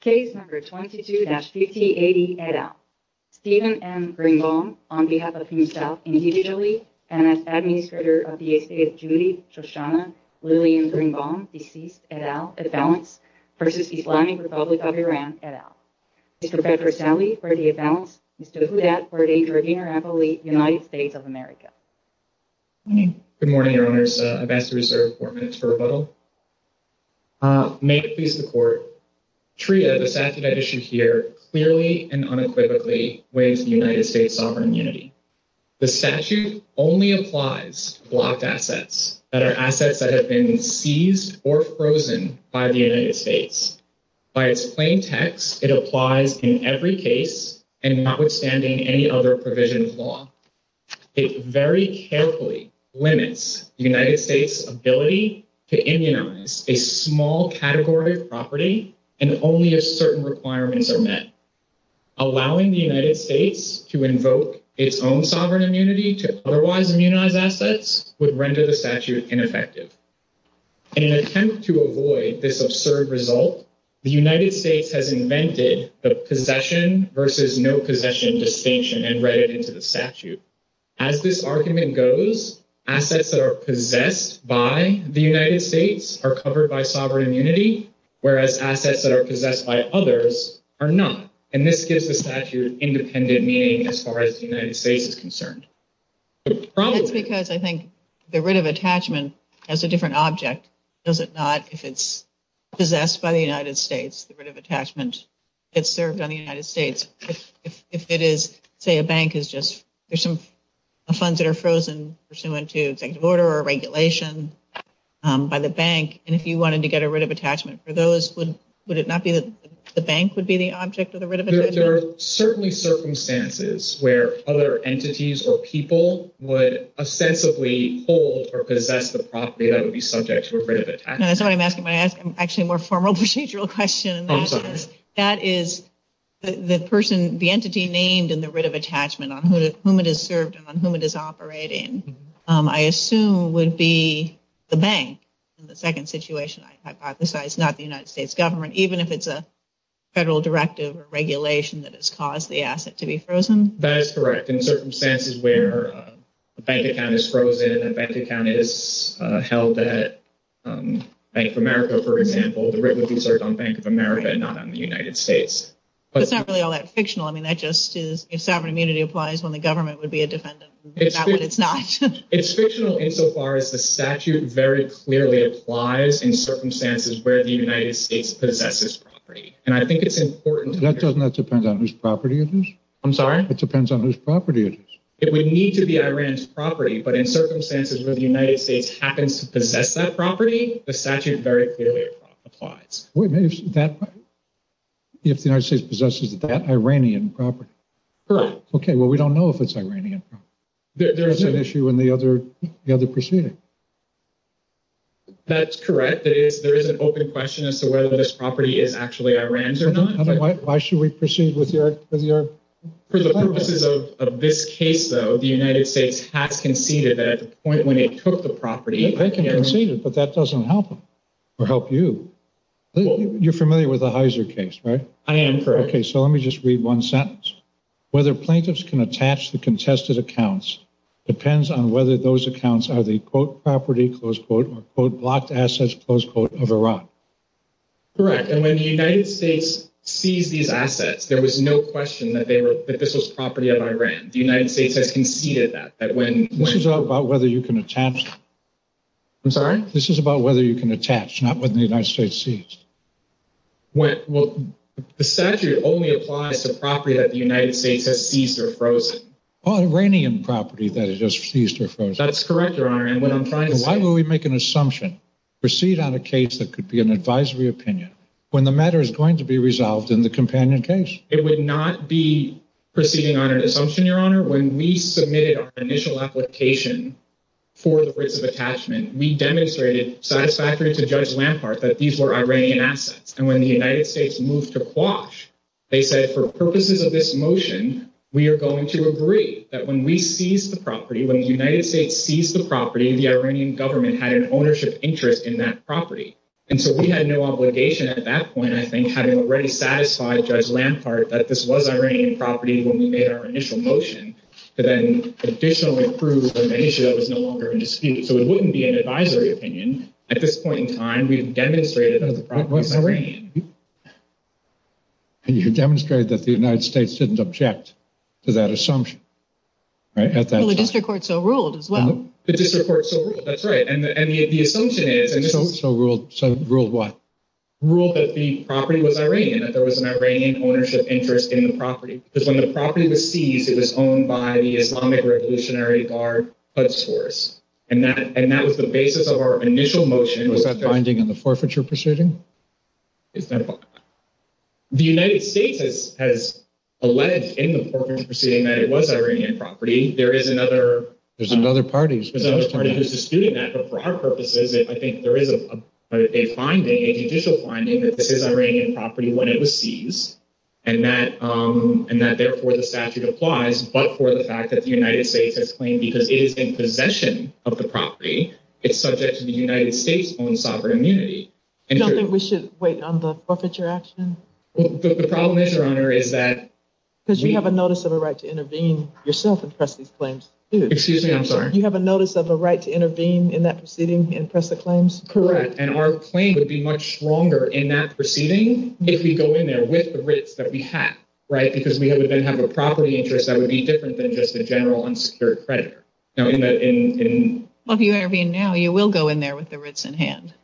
Case No. 22-5080 et al. Stephen M. Greenbaum, on behalf of himself individually and as administrator of the estate of Judy Shoshana Lillian Greenbaum v. Islamic Republic of Iran et al. Mr. Fred Rosselli for the et al. Mr. Houdat for the Interapolis United States of America. Good morning, Your Honors. I'm asked to reserve four minutes for rebuttal. May it please the Court. TREA, the statute at issue here, clearly and unequivocally waives the United States' sovereign immunity. The statute only applies to blocked assets that are assets that have been seized or frozen by the United States. By its plain text, it applies in every case and notwithstanding any other provision of law. It very carefully limits the United States' ability to immunize a small category of property and only if certain requirements are met. Allowing the United States to invoke its own sovereign immunity to otherwise immunized assets would render the statute ineffective. In an attempt to avoid this absurd result, the United States has invented the possession versus no possession distinction and read it into the statute. As this argument goes, assets that are possessed by the United States are covered by sovereign immunity, whereas assets that are possessed by others are not. And this gives the statute independent meaning as far as the United States is concerned. It's because I think the writ of attachment has a different object. Does it not, if it's possessed by the United States, the writ of attachment gets served on the United States? If it is, say, a bank is just, there's some funds that are frozen pursuant to executive order or regulation by the bank. And if you wanted to get a writ of attachment for those, would it not be that the bank would be the object of the writ of attachment? There are certainly circumstances where other entities or people would ostensibly hold or possess the property that would be subject to a writ of attachment. I'm actually asking a more formal procedural question. I'm sorry. That is the person, the entity named in the writ of attachment on whom it is served and on whom it is operating, I assume, would be the bank. In the second situation, I hypothesize not the United States government, even if it's a federal directive or regulation that has caused the asset to be frozen? That is correct. In circumstances where a bank account is frozen, a bank account is held at Bank of America, for example, the writ will be served on Bank of America and not on the United States. But it's not really all that fictional. I mean, that just is, if sovereign immunity applies when the government would be a defendant, not when it's not. It's fictional insofar as the statute very clearly applies in circumstances where the United States possesses property. And I think it's important— That does not depend on whose property it is. I'm sorry? It depends on whose property it is. It would need to be Iran's property, but in circumstances where the United States happens to possess that property, the statute very clearly applies. If the United States possesses that Iranian property? Correct. Okay, well, we don't know if it's Iranian property. There's an issue in the other proceeding. That's correct. There is an open question as to whether this property is actually Iran's or not. Why should we proceed with your— For the purposes of this case, though, the United States has conceded that at the point when it took the property— They conceded, but that doesn't help them or help you. You're familiar with the Heiser case, right? I am, correct. Okay, so let me just read one sentence. Whether plaintiffs can attach the contested accounts depends on whether those accounts are the, quote, property, close quote, or, quote, blocked assets, close quote, of Iran. Correct, and when the United States seized these assets, there was no question that this was property of Iran. The United States has conceded that. This is all about whether you can attach. I'm sorry? This is about whether you can attach, not whether the United States seized. The statute only applies to property that the United States has seized or frozen. All Iranian property that is seized or frozen. That's correct, Your Honor, and what I'm trying to— Why would we make an assumption, proceed on a case that could be an advisory opinion, when the matter is going to be resolved in the companion case? It would not be proceeding on an assumption, Your Honor. Your Honor, when we submitted our initial application for the risk of attachment, we demonstrated satisfactory to Judge Lampart that these were Iranian assets. And when the United States moved to quash, they said, for purposes of this motion, we are going to agree that when we seized the property, when the United States seized the property, the Iranian government had an ownership interest in that property. And so we had no obligation at that point, I think, having already satisfied Judge Lampart that this was Iranian property when we made our initial motion, and then officially approved when the issue was no longer in dispute. So it wouldn't be an advisory opinion. At this point in time, we've demonstrated that the property was Iranian. And you've demonstrated that the United States didn't object to that assumption. Well, the district court so ruled as well. The district court so ruled, that's right. So ruled what? Ruled that the property was Iranian, that there was an Iranian ownership interest in the property. Because when the property was seized, it was owned by the Islamic Revolutionary Guard club source. And that was the basis of our initial motion. Was that binding in the forfeiture proceeding? The United States has alleged in the forfeiture proceeding that it was Iranian property. There is another... There's another party. There's another party who's disputing that. But for our purposes, I think there is a binding, an initial binding, that this is Iranian property when it was seized, and that therefore the statute applies, but for the fact that the United States has claimed, because it is in possession of the property, it's subject to the United States' own sovereign immunity. Don't think we should wait on the forfeiture action? The problem is, Your Honor, is that... Because you have a notice of a right to intervene yourself and press these claims, too. Excuse me, I'm sorry. You have a notice of a right to intervene in that proceeding and press the claims? Correct. And our claim would be much stronger in that proceeding if we go in there with the writs that we have, right? Because we would then have a property interest that would be different than just a general unsecured credit. Well, if you intervene now, you will go in there with the writs in hand.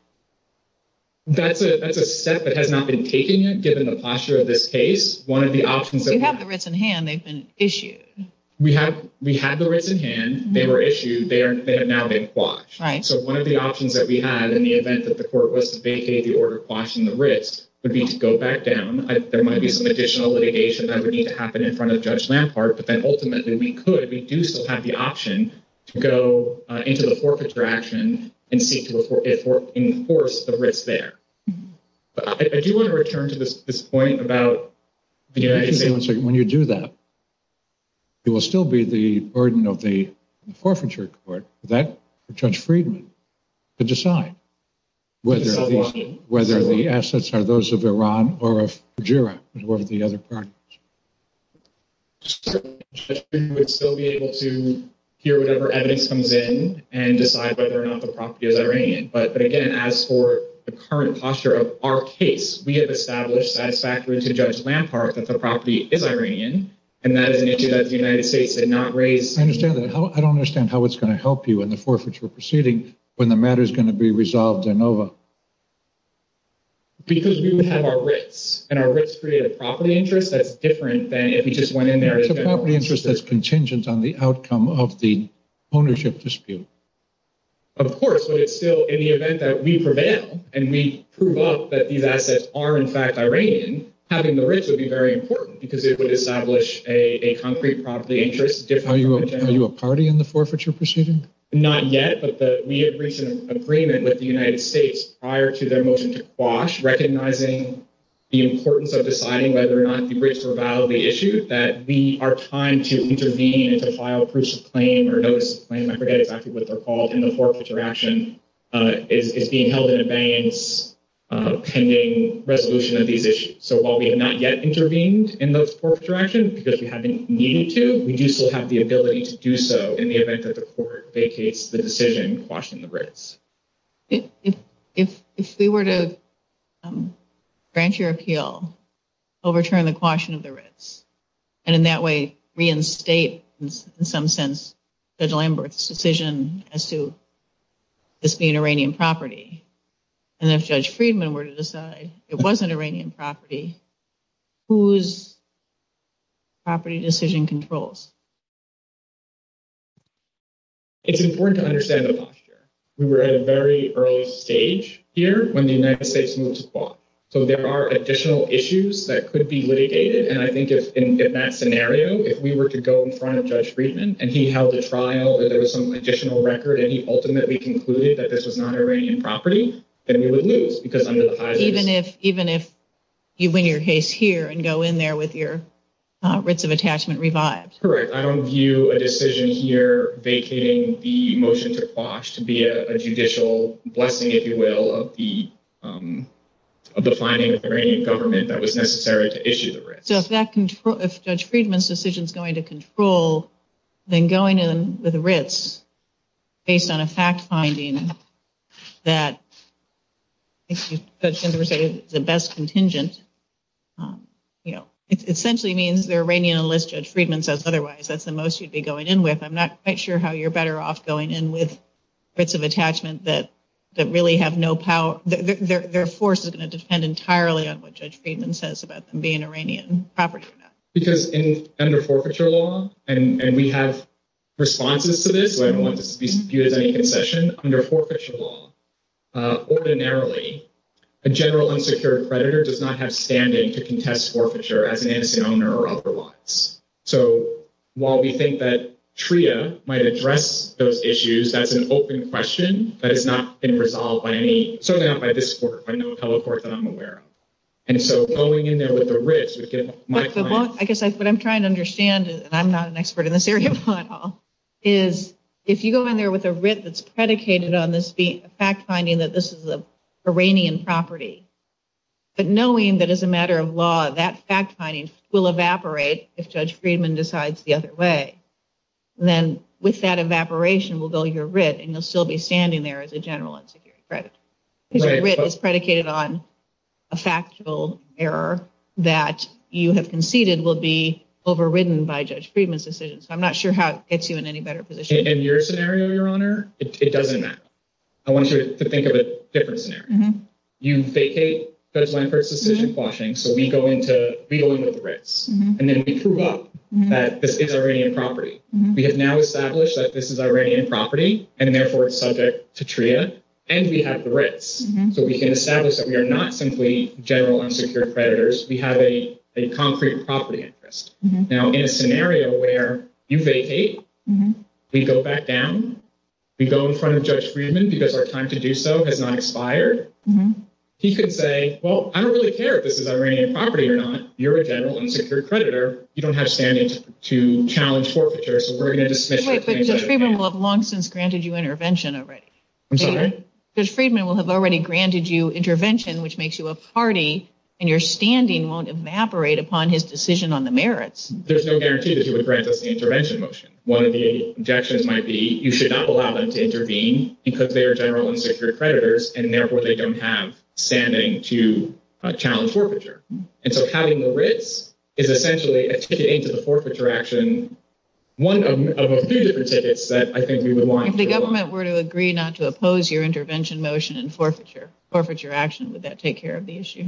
That's a step that has not been taken yet, given the posture of this case. One of the options... They have the writs in hand. They've been issued. We have the writs in hand. They were issued. They are now a quash. Right. So one of the options that we have, in the event that the court was to vacate the order quashing the writs, would be to go back down. There might be some additional litigation that would need to happen in front of Judge Lampard, but then ultimately we could, if we do still have the option, to go into the forfeiture action and enforce the writs there. I do want to return to this point about... Wait one second. When you do that, it will still be the burden of the forfeiture court for Judge Friedman to decide whether the assets are those of Iran or of Fujairah, as well as the other parties. Judge Friedman would still be able to hear whatever evidence comes in and decide whether or not the property is Iranian. But again, as for the current posture of our case, we have established that it's accurate to Judge Lampard that the property is Iranian, and that is an issue that the United States did not raise... I don't understand how it's going to help you in the forfeiture proceeding when the matter is going to be resolved in OVA. Because we would have our writs. And our writs create a property interest that's different than if you just went in there... It's a property interest that's contingent on the outcome of the ownership dispute. Of course. But it's still, in the event that we prevail and we prove off that these assets are in fact Iranian, having the writs would be very important because it would establish a concrete property interest... Are you a party in the forfeiture proceeding? Not yet, but we have reached an agreement with the United States prior to their motion to quash, recognizing the importance of deciding whether or not the writs were a valid issue, that we are trying to intervene to file proofs of claim or notice of claim. And I forget exactly what they're called in the forfeiture action. It's being held in abeyance pending resolution of these issues. So while we have not yet intervened in those forfeiture actions, because we haven't needed to, we do still have the ability to do so in the event that the court vacates the decision to quash the writs. If we were to grant your appeal, overturn the quashing of the writs, and in that way reinstate, in some sense, the Lamberts decision as to this being Iranian property, and if Judge Friedman were to decide it wasn't Iranian property, whose property decision controls? It's important to understand the posture. We were at a very early stage here when the United States moved to quash. So there are additional issues that could be litigated, and I think in that scenario, if we were to go in front of Judge Friedman, and he held a trial, or there was some additional record, and he ultimately concluded that this was not Iranian property, then we would lose. Even if you win your case here and go in there with your writs of attachment revised? Correct. I don't view a decision here vacating the motion to quash to be a judicial blessing, if you will, of the finding of the Iranian government that was necessary to issue the writs. So if Judge Friedman's decision is going to control, then going in with writs based on a fact finding that, in other words, the best contingent, it essentially means the Iranian enlist Judge Friedman says otherwise. That's the most you'd be going in with. I'm not quite sure how you're better off going in with writs of attachment that really have no power. Their force is going to depend entirely on what Judge Friedman says about them being Iranian property. Because under forfeiture law, and we have responses to this, where everyone's viewed as a concession, under forfeiture law, ordinarily, a general unsecured creditor does not have standing to contest forfeiture as an innocent owner or otherwise. So while we think that TRIA might address those issues, that's an open question that has not been resolved by any. Certainly not by this court. By no other court that I'm aware of. And so going in there with the writs is in my mind. I guess what I'm trying to understand, and I'm not an expert in this area at all, is if you go in there with a writ that's predicated on this being a fact finding that this is an Iranian property, but knowing that as a matter of law that fact finding will evaporate if Judge Friedman decides the other way, then with that evaporation will go your writ and you'll still be standing there as a general unsecured creditor. Because your writ is predicated on a factual error that you have conceded will be overridden by Judge Friedman's decision. So I'm not sure how it gets you in any better position. In your scenario, Your Honor, it doesn't matter. I want you to think of a different scenario. You vacate Judge Lankford's decision quashing, so we go into the writs, and then we prove up that this is Iranian property. We have now established that this is Iranian property, and therefore it's subject to TRIA, and we have writs. So we can establish that we are not simply general unsecured creditors. We have a concrete property interest. Now, in a scenario where you vacate, we go back down, we go in front of Judge Friedman because our time to do so has not expired, he could say, well, I don't really care if this is Iranian property or not. You're a general unsecured creditor. You don't have standing to challenge forfeiture, But Judge Friedman will have long since granted you intervention already. I'm sorry? Judge Friedman will have already granted you intervention, which makes you a party, and your standing won't evaporate upon his decision on the merits. There's no guarantee that he would grant us the intervention motion. One of the objections might be you should not allow them to intervene because they are general unsecured creditors, and therefore they don't have standing to challenge forfeiture. And so having the risk is essentially a ticket into the forfeiture action, one of a few different tickets that I think we would want. If the government were to agree not to oppose your intervention motion and forfeiture action, would that take care of the issue?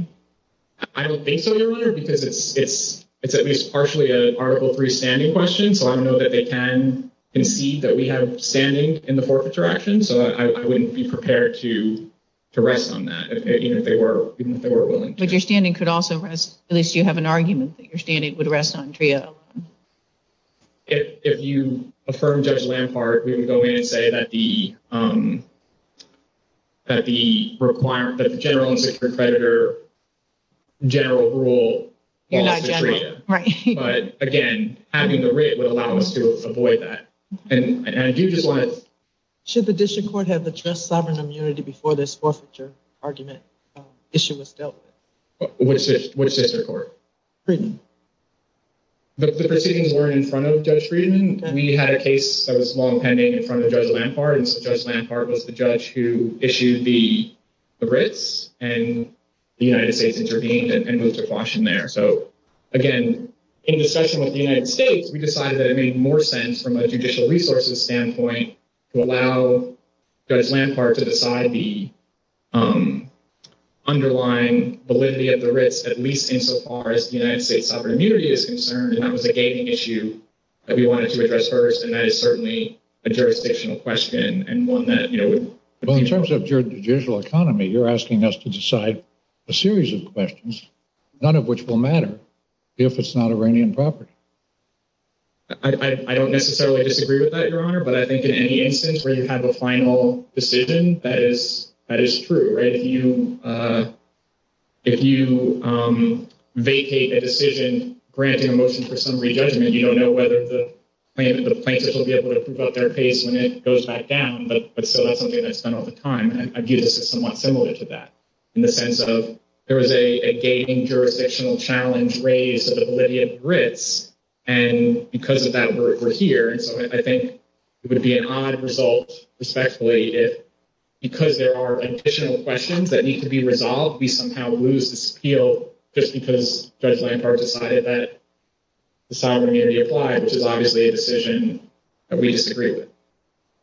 I don't think so, Your Honor, because it's at least partially an Article III standing question, so I don't know that they can concede that we have standing in the forfeiture action, so I wouldn't be prepared to rest on that, even if they were willing to. But your standing could also rest, at least you have an argument, that your standing would rest on TRIO. If you affirm Judge Lampard, we would go in and say that the general unsecured creditor general rule is TRIO. Right. But, again, having the risk would allow us to avoid that. Should the district court have addressed sovereign immunity before this forfeiture argument issue was dealt with? Which district court? Friedman. The proceedings were in front of Judge Friedman. We had a case that was long pending in front of Judge Lampard, and so Judge Lampard was the judge who issued the risk, and the United States intervened and went to caution there. So, again, in discussion with the United States, we decided that it made more sense from a judicial resources standpoint to allow Judge Lampard to decide the underlying validity of the risk, at least insofar as the United States sovereign immunity is concerned, and that was a gaming issue that we wanted to address first, and that is certainly a jurisdictional question and one that, you know— Well, in terms of your judicial economy, you're asking us to decide a series of questions, one of which will matter if it's not Iranian property. I don't necessarily disagree with that, Your Honor, but I think in any instance where you have a final decision, that is true, right? If you vacate a decision granting a motion for some re-judgment, you don't know whether the plaintiffs will be able to prove up their case when it goes back down, but so that's something that's done all the time, and I view this as somewhat similar to that in the sense of there is a gaming jurisdictional challenge raised to the validity of the risk, and because of that, we're here. So I think it would be an odd result, respectfully, if because there are additional questions that need to be resolved, we somehow lose this appeal just because Judge Lampard decided that the sovereign immunity applied, which is obviously a decision that we disagree with.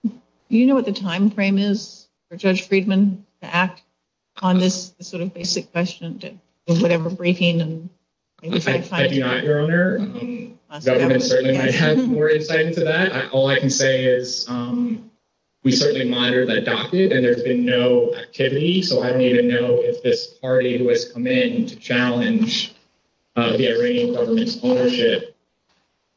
Do you know what the timeframe is for Judge Friedman to act on this sort of basic question, or whatever briefing? I do not, Your Honor. The government certainly might have more insight into that. All I can say is we certainly monitor that document, and there's been no activity, so I don't even know if this party who has come in to challenge the Iranian government's ownership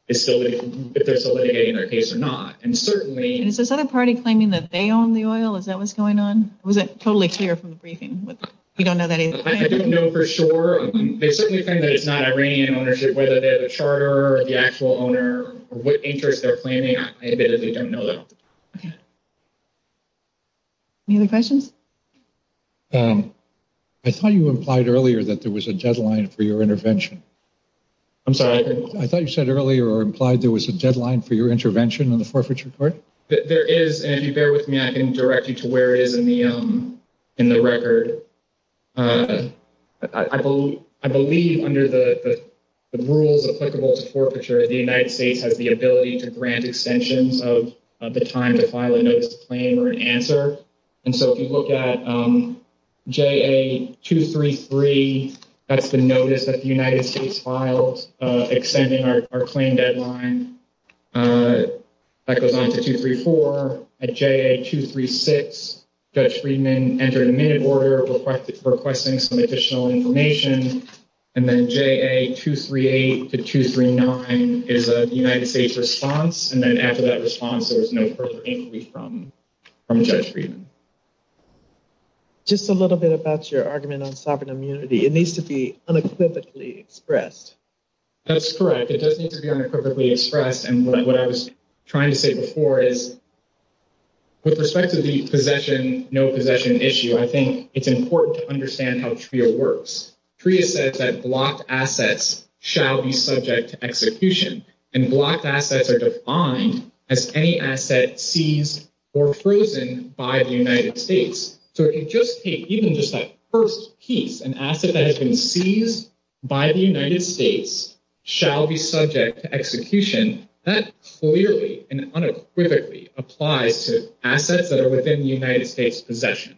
is facilitating our case or not. Is this other party claiming that they own the oil? Is that what's going on? It wasn't totally clear from the briefing. We don't know that either. I don't know for sure. They certainly claim that it's not Iranian ownership, whether they have a charter or the actual owner, or what interest they're planning on. Any other questions? I thought you implied earlier that there was a deadline for your intervention. I'm sorry. I thought you said earlier or implied there was a deadline for your intervention in the forfeiture court. There is, and if you bear with me, I can direct you to where it is in the record. I believe under the rules applicable to forfeiture, the United States has the ability to grant extensions of the time to file a notice of claim or an answer. If you look at JA233, that's the notice that the United States filed extending our claim deadline. That goes on to 234. At JA236, Judge Friedman entered a minute order requesting some additional information. Then JA238 to 239 is a United States response. And then after that response, there is no further inquiry from Judge Friedman. Just a little bit about your argument on sovereign immunity. It needs to be unequivocally expressed. That's correct. It does need to be unequivocally expressed. And what I was trying to say before is with respect to the possession, no possession issue, I think it's important to understand how TRIA works. TRIA says that blocked assets shall be subject to execution. And blocked assets are defined as any asset seized or frozen by the United States. So if you just take even just that first piece, an asset that has been seized by the United States shall be subject to execution, that clearly and unequivocally applies to assets that are within the United States' possession.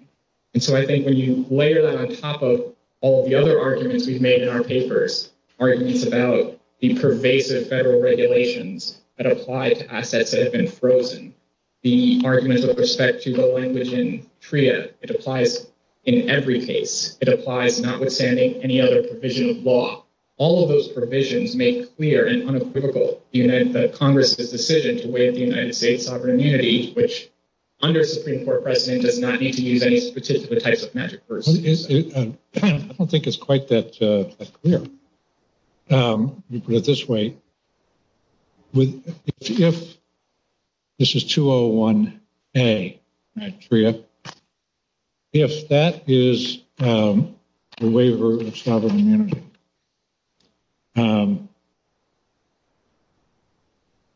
And so I think when you layer that on top of all the other arguments we've made in our papers, arguments about the pervasive federal regulations that apply to assets that have been frozen, the arguments with respect to the language in TRIA, it applies in every case. It applies notwithstanding any other provision of law. All of those provisions make clear and unequivocal the Congress' decision to waive the United States' sovereign immunity, which under a Supreme Court precedent does not need to use any specific types of magic words. I don't think it's quite that clear. You put it this way. If this is 201A in TRIA, if that is a waiver of sovereign immunity, I'm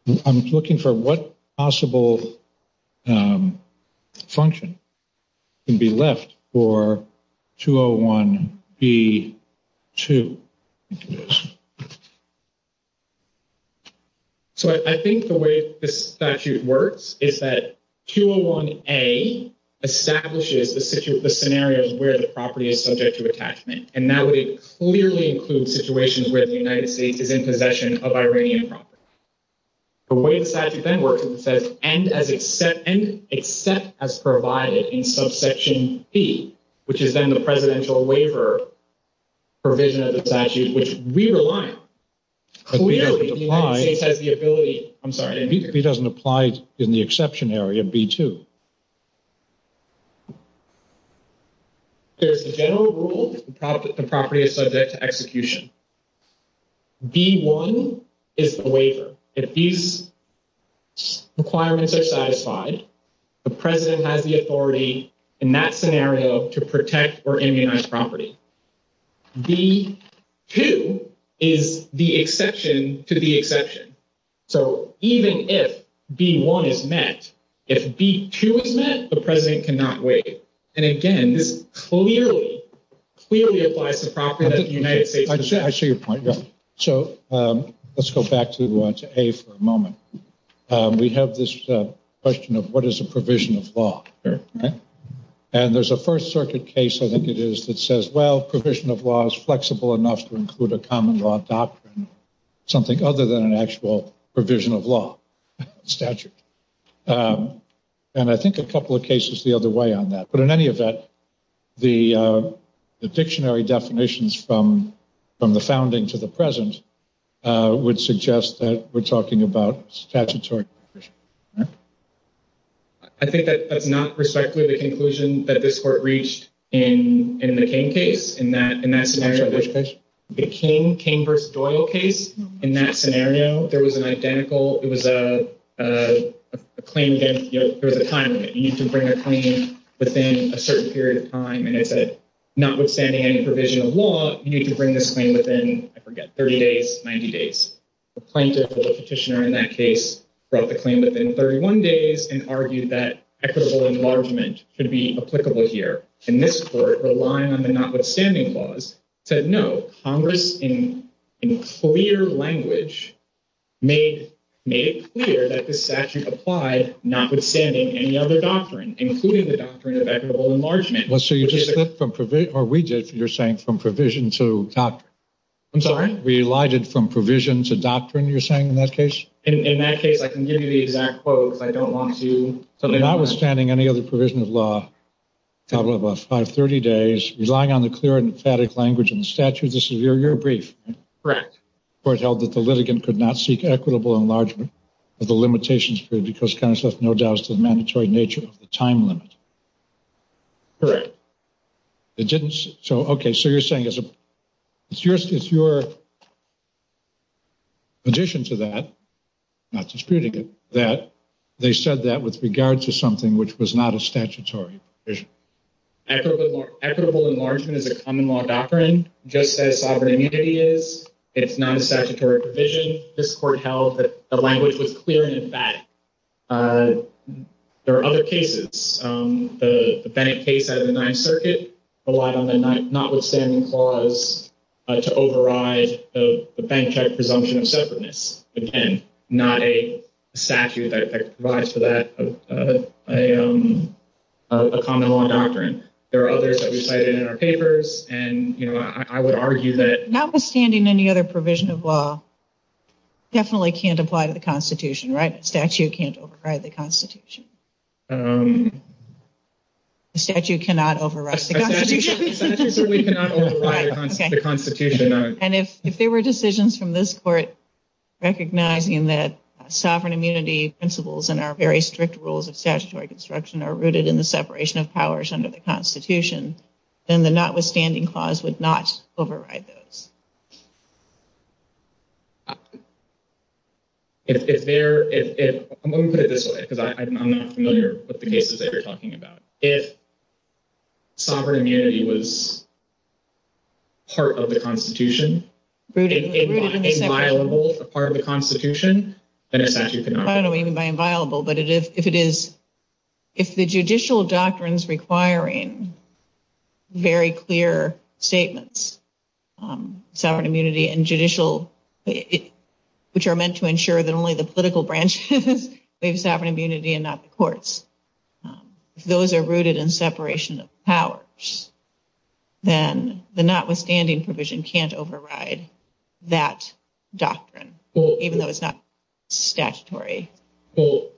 looking for what possible function can be left for 201B2. So I think the way this statute works is that 201A establishes the scenario where the property is subject to attachment. And that would clearly include situations where the United States is in possession of Iranian property. The way the statute then works is it says, and except as provided in subsection B, which is then the presidential waiver provision of the statute, which we rely on. B doesn't apply in the exception area, B2. There's a general rule that the property is subject to execution. B1 is a waiver. If these requirements are satisfied, the president has the authority in that scenario to protect or immunize property. B2 is the exception to the exception. So even if B1 is met, if B2 is met, the president cannot waive. And again, this clearly, clearly applies to property that's in the United States. I see your point. So let's go back to A for a moment. We have this question of what is a provision of law. And there's a First Circuit case, I think it is, that says, well, a provision of law is flexible enough to include a common law doctrine, something other than an actual provision of law statute. And I think a couple of cases the other way on that. But in any event, the dictionary definitions from the founding to the present would suggest that we're talking about statutory. I think that's not respectfully the conclusion that this court reached in the King case. In that scenario, the King versus Doyle case, in that scenario, there was an identical, it was a claim against guilt for the time. You need to bring a claim within a certain period of time. And if it's not withstanding any provision of law, you need to bring this claim within, I forget, 30 days, 90 days. The plaintiff or the petitioner in that case brought the claim within 31 days and argued that equitable enlargement could be applicable here. And this court, relying on the notwithstanding laws, said no. Congress, in clear language, made clear that this statute applied notwithstanding any other doctrine, including the doctrine of equitable enlargement. Or we did, you're saying, from provision to doctrine. I'm sorry? We lighted from provision to doctrine, you're saying, in that case? In that case, I can give you the exact quote if I don't want to. Notwithstanding any other provision of law, a couple of, what, 530 days, relying on the clear and emphatic language of the statute, this is your brief. Correct. The court held that the litigant could not seek equitable enlargement of the limitations free because Congress left no doubt as to the mandatory nature of the time limit. Correct. It didn't, so, okay, so you're saying it's your addition to that, not disputing it, that they said that with regard to something which was not a statutory provision. Equitable enlargement is a common law doctrine, just as sovereign immunity is. It's not a statutory provision. This court held that the language was clear and emphatic. There are other cases. Notwithstanding any other provision of law, definitely can't apply to the Constitution, right? The statute can't apply to the Constitution. The statute cannot override the Constitution. The statute cannot override the Constitution. And if there were decisions from this court recognizing that sovereign immunity principles and our very strict rules of statutory construction are rooted in the separation of powers under the Constitution, then the notwithstanding clause would not override those. I'm going to put it this way, because I'm not familiar with the cases that you're talking about. If sovereign immunity was part of the Constitution, if it was inviolable as part of the Constitution, then the statute cannot override it. I don't know what you mean by inviolable, but if the judicial doctrine is requiring very clear statements, sovereign immunity and judicial, which are meant to ensure that only the political branches have sovereign immunity and not the courts, if those are rooted in separation of powers, then the notwithstanding provision can't override that doctrine, even though it's not statutory. Well,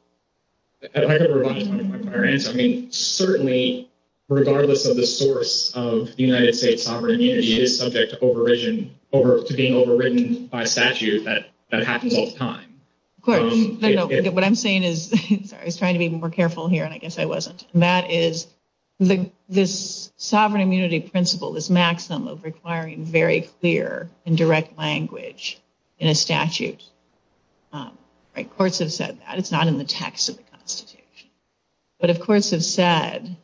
I don't know what you mean by that. I mean, certainly, regardless of the source of the United States sovereign immunity, it is subject to being overridden by a statute that happens all the time. Of course. What I'm saying is, sorry, I was trying to be more careful here, and I guess I wasn't. This sovereign immunity principle, this maxim of requiring very clear and direct language in a statute, courts have said that. It's not in the text of the Constitution. But, of course, it's said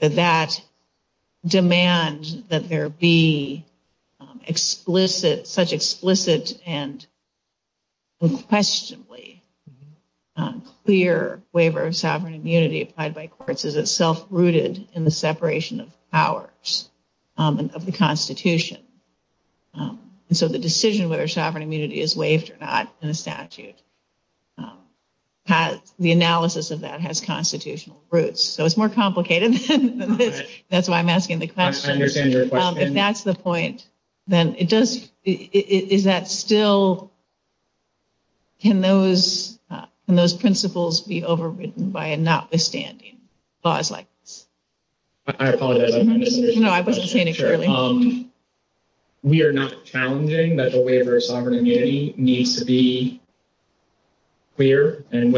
that that demands that there be such explicit and unquestionably clear waiver of sovereign immunity applied by courts as itself rooted in the separation of powers of the Constitution. And so the decision of whether sovereign immunity is waived or not in a statute, the analysis of that has constitutional roots. So it's more complicated. That's why I'm asking the question. I understand your question. If that's the point, then it does – is that still – can those principles be overridden by a notwithstanding clause like this? I apologize. No, I wasn't paying attention. We are not challenging that the waiver of sovereign immunity needs to be clear. And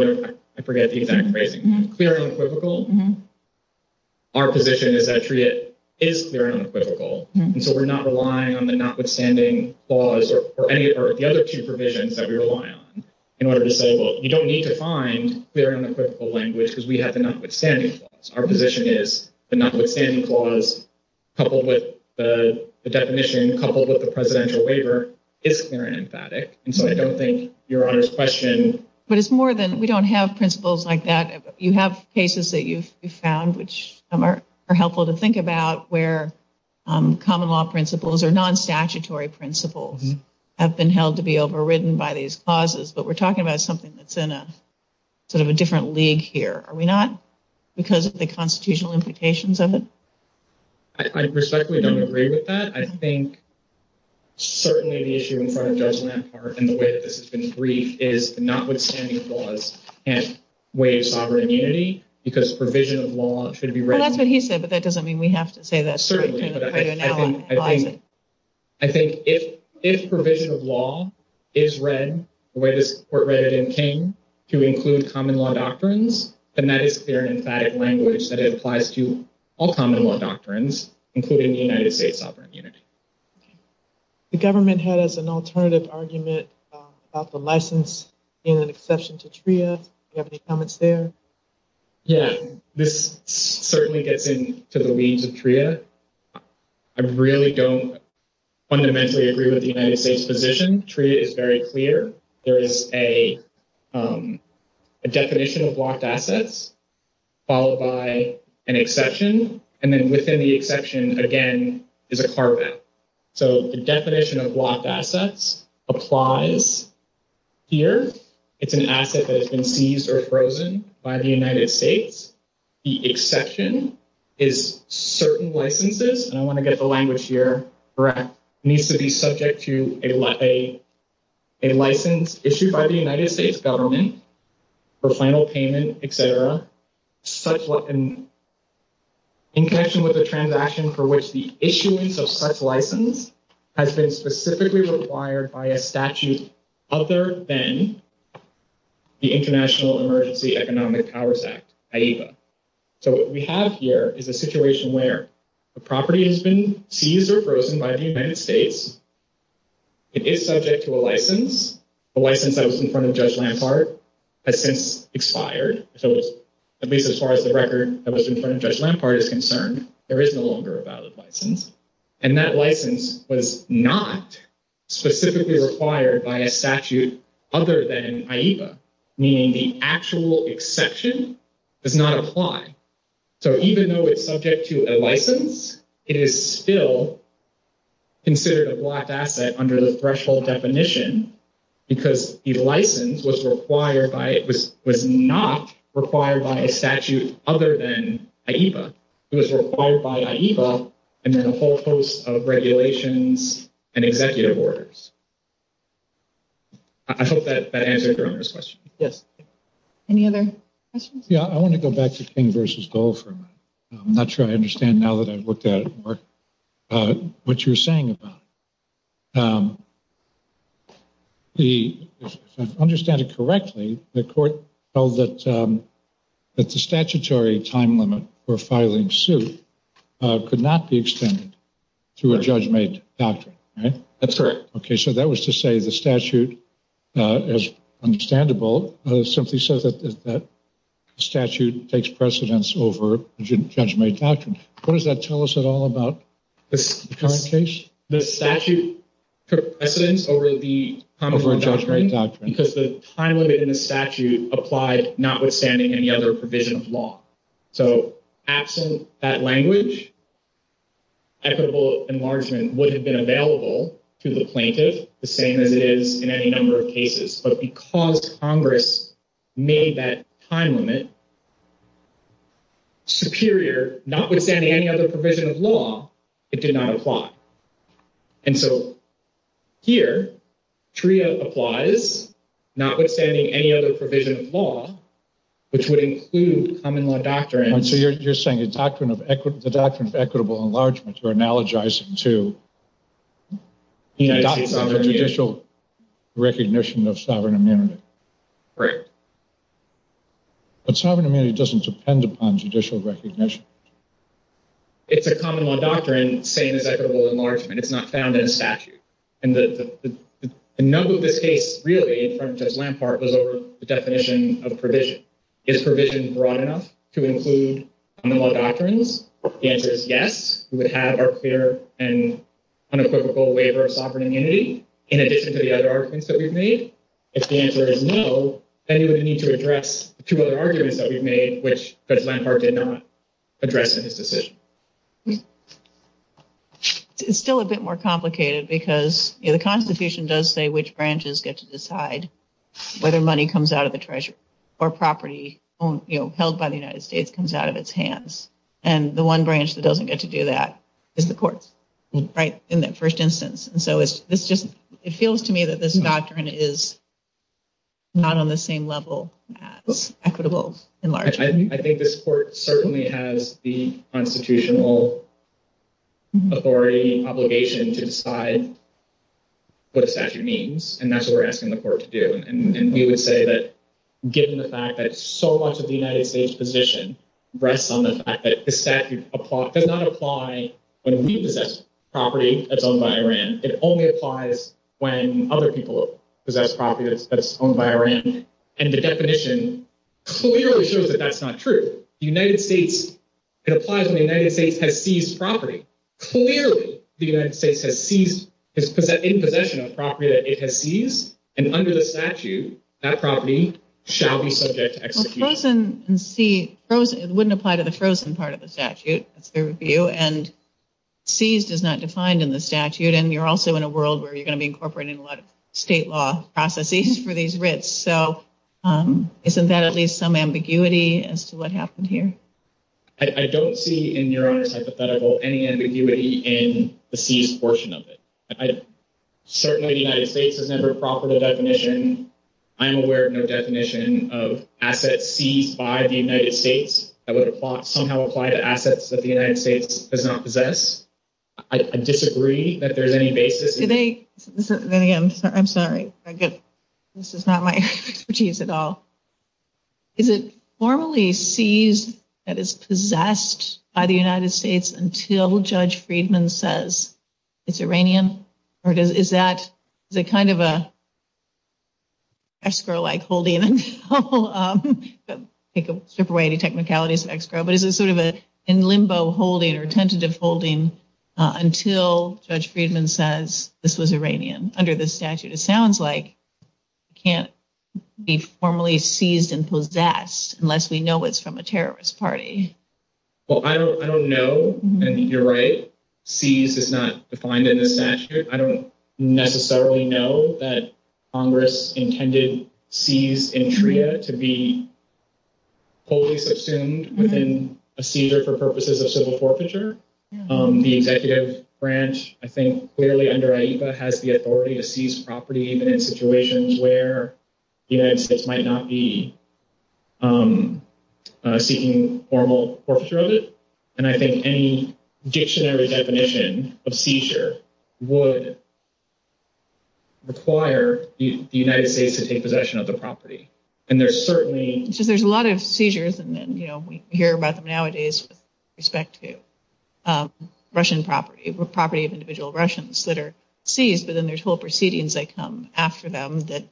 I forget the exact phrase. Clear and unequivocal. Our position is that it is clear and unequivocal. And so we're not relying on the notwithstanding clause or any of the other two provisions that we rely on in order to say, well, you don't need to find clear and unequivocal language because we have the notwithstanding clause. Our position is the notwithstanding clause coupled with the definition coupled with the presidential waiver is clear and emphatic. And so I don't think your honest question – But it's more than – we don't have principles like that. You have cases that you've found which are helpful to think about where common law principles or non-statutory principles have been held to be overridden by these clauses. But we're talking about something that's in a sort of a different league here. Are we not? Because of the constitutional implications of it? I respectfully don't agree with that. I think certainly the issue in front of us in that part and the way that this has been agreed is the notwithstanding clause can't waive sovereign immunity because provision of law should be read – Well, that's what he said, but that doesn't mean we have to say that. I think if provision of law is read the way this report read it and came, to include common law doctrines, then that is clear and emphatic language that applies to all common law doctrines, including the United States sovereign immunity. The government has an alternative argument about the license being an exception to TRIA. Do you have any comments there? Yeah, this certainly gets into the weeds of TRIA. I really don't fundamentally agree with the United States position. TRIA is very clear. There is a definition of locked assets followed by an exception, and then within the exception, again, is a carpet. So the definition of locked assets applies here. It's an asset that has been seized or frozen by the United States. The exception is certain licenses, and I want to get the language here correct, needs to be subject to a license issued by the United States government for final payment, etc. In connection with the transaction for which the issuance of such license has been specifically required by a statute other than the International Emergency Economic Powers Act. So what we have here is a situation where the property has been seized or frozen by the United States. It is subject to a license. The license that was in front of Judge Lampart has since expired. So at least as far as the record that was in front of Judge Lampart is concerned, there is no longer a valid license. And that license was not specifically required by a statute other than in IEVA, meaning the actual exception does not apply. So even though it's subject to a license, it is still considered a locked asset under the threshold definition because the license was not required by a statute other than IEVA. It was required by IEVA and then a whole host of regulations and executive orders. I hope that answers your first question. Yes. Any other questions? Yeah, I want to go back to King v. Gold for a minute. I'm not sure I understand now that I've looked at it more what you were saying about it. If I understand it correctly, the court held that the statutory time limit for filing suit could not be extended to a judge-made doctrine, right? That's correct. Okay, so that was to say the statute, as understandable, simply said that the statute takes precedence over a judge-made doctrine. What does that tell us at all about the current case? The statute took precedence over a judge-made doctrine because the time limit in the statute applied notwithstanding any other provision of law. So absent that language, equitable enlargement would have been available to the plaintiff the same as it is in any number of cases. But because Congress made that time limit superior, notwithstanding any other provision of law, it did not apply. And so here, TRIA applies, notwithstanding any other provision of law, which would include common law doctrine. So you're saying the doctrine of equitable enlargement, you're analogizing to the doctrine of judicial recognition of sovereign immunity. Correct. But sovereign immunity doesn't depend upon judicial recognition. It's a common law doctrine, same as equitable enlargement. It's not found in the statute. And the number of the case, really, from Judge Lampart, was over the definition of provision. Is provision broad enough to include common law doctrines? The answer is yes. We would have our fair and unequivocal waiver of sovereign immunity, in addition to the other arguments that we've made. The answer is no. We need to address two other arguments that we've made, which Judge Lampart did not address in his decision. It's still a bit more complicated because the Constitution does say which branches get to decide whether money comes out of the treasury or property held by the United States comes out of its hands. And the one branch that doesn't get to do that is the courts, right, in that first instance. It feels to me that this doctrine is not on the same level as equitable enlargement. I think this court certainly has the constitutional authority and obligation to decide what the statute means. And that's what we're asking the court to do. And we would say that given the fact that so much of the United States' position rests on the fact that the statute does not apply when we possess property that's owned by Iran. It only applies when other people possess property that's owned by Iran. And the definition clearly shows that that's not true. The United States—it applies when the United States has seized property. Clearly, the United States has seized—has put that in possession of property that it has seized. And under the statute, that property shall be subject to execution. Frozen and seized—it wouldn't apply to the frozen part of the statute. That's fair of you. And seized is not defined in the statute. And you're also in a world where you're going to be incorporating a lot of state law processes for these writs. So isn't that at least some ambiguity as to what happened here? I don't see, in your eyes, at the federal level, any ambiguity in the seized portion of it. Certainly, the United States has never offered a definition. I'm aware of no definition of assets seized by the United States that would somehow apply to assets that the United States does not possess. I disagree that there's any basis— Vinny, I'm sorry. This is not my expertise at all. Is it formally seized that is possessed by the United States until Judge Friedman says it's Iranian? Or is that kind of an escrow-like holding? I'll take away the technicalities of escrow. But is it sort of a limbo holding or tentative holding until Judge Friedman says this is Iranian? Under the statute, it sounds like it can't be formally seized and possessed unless we know it's from a terrorist party. Well, I don't know. And you're right. Seized is not defined in the statute. I don't necessarily know that Congress intended seized in Trita to be wholly subsumed within a seizure for purposes of civil forfeiture. The executive branch, I think, clearly under IEFA has the authority to seize property in situations where the United States might not be seeking formal forfeiture of it. And I think any dictionary definition of seizure would require the United States to take possession of the property. So there's a lot of seizures, and we hear about them nowadays with respect to property of individual Russians that are seized. But then there's whole proceedings that come after them that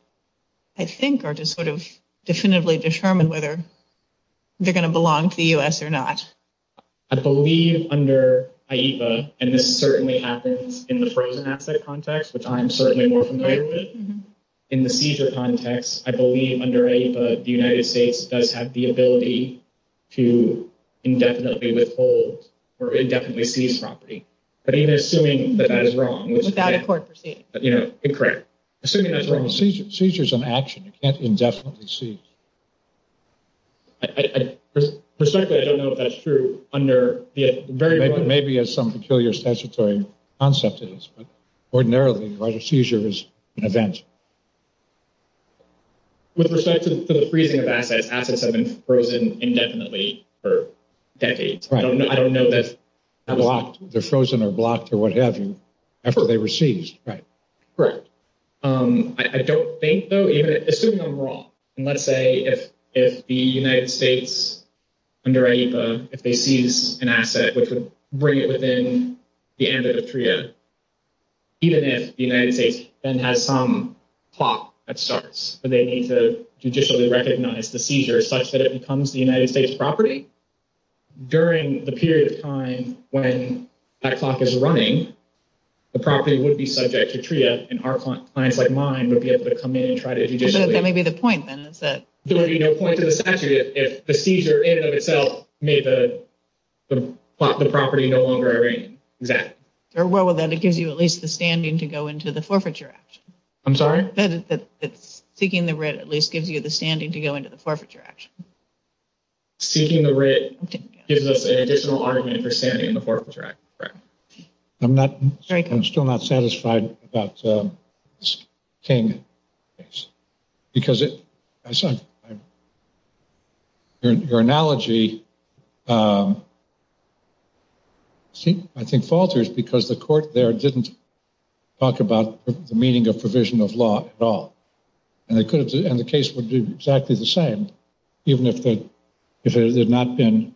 I think are to sort of definitively determine whether they're going to belong to the U.S. or not. I believe under IEFA, and this certainly happens in the frozen asset context, which I'm certainly more familiar with. In the seizure context, I believe under IEFA, the United States does have the ability to indefinitely withhold or indefinitely seize property. But even assuming that that is wrong. Without a court proceeding. Yeah, incorrect. Assuming that's wrong. Seizure is an action. It can't be indefinitely seized. I don't know if that's true. Maybe there's some peculiar statutory concept to this, but ordinarily a seizure is an event. With respect to the freezing of assets, assets have been frozen indefinitely for decades. I don't know if they're frozen or blocked or whatever. After they were seized, right. Correct. I don't think so. Assuming they're wrong. And let's say if the United States under IEFA, if they seize an asset that's right within the end of the TRIA, even if the United States then has some clock that starts, they need to judicially recognize the seizure such that it becomes the United States property. During the period of time when that clock is running, the property would be subject to TRIA and our clients like mine would be able to come in and try to judicially. That may be the point then. There would be no point to the statute if the seizure in and of itself made the property no longer a ring. Exactly. Well, then it gives you at least the standing to go into the forfeiture action. I'm sorry? Seeking the writ at least gives you the standing to go into the forfeiture action. Seeking the writ gives us an additional argument for standing in the forfeiture action. I'm not, I'm still not satisfied about this thing. Because your analogy, I think, falters because the court there didn't talk about the meaning of provision of law at all. And the case would do exactly the same even if there had not been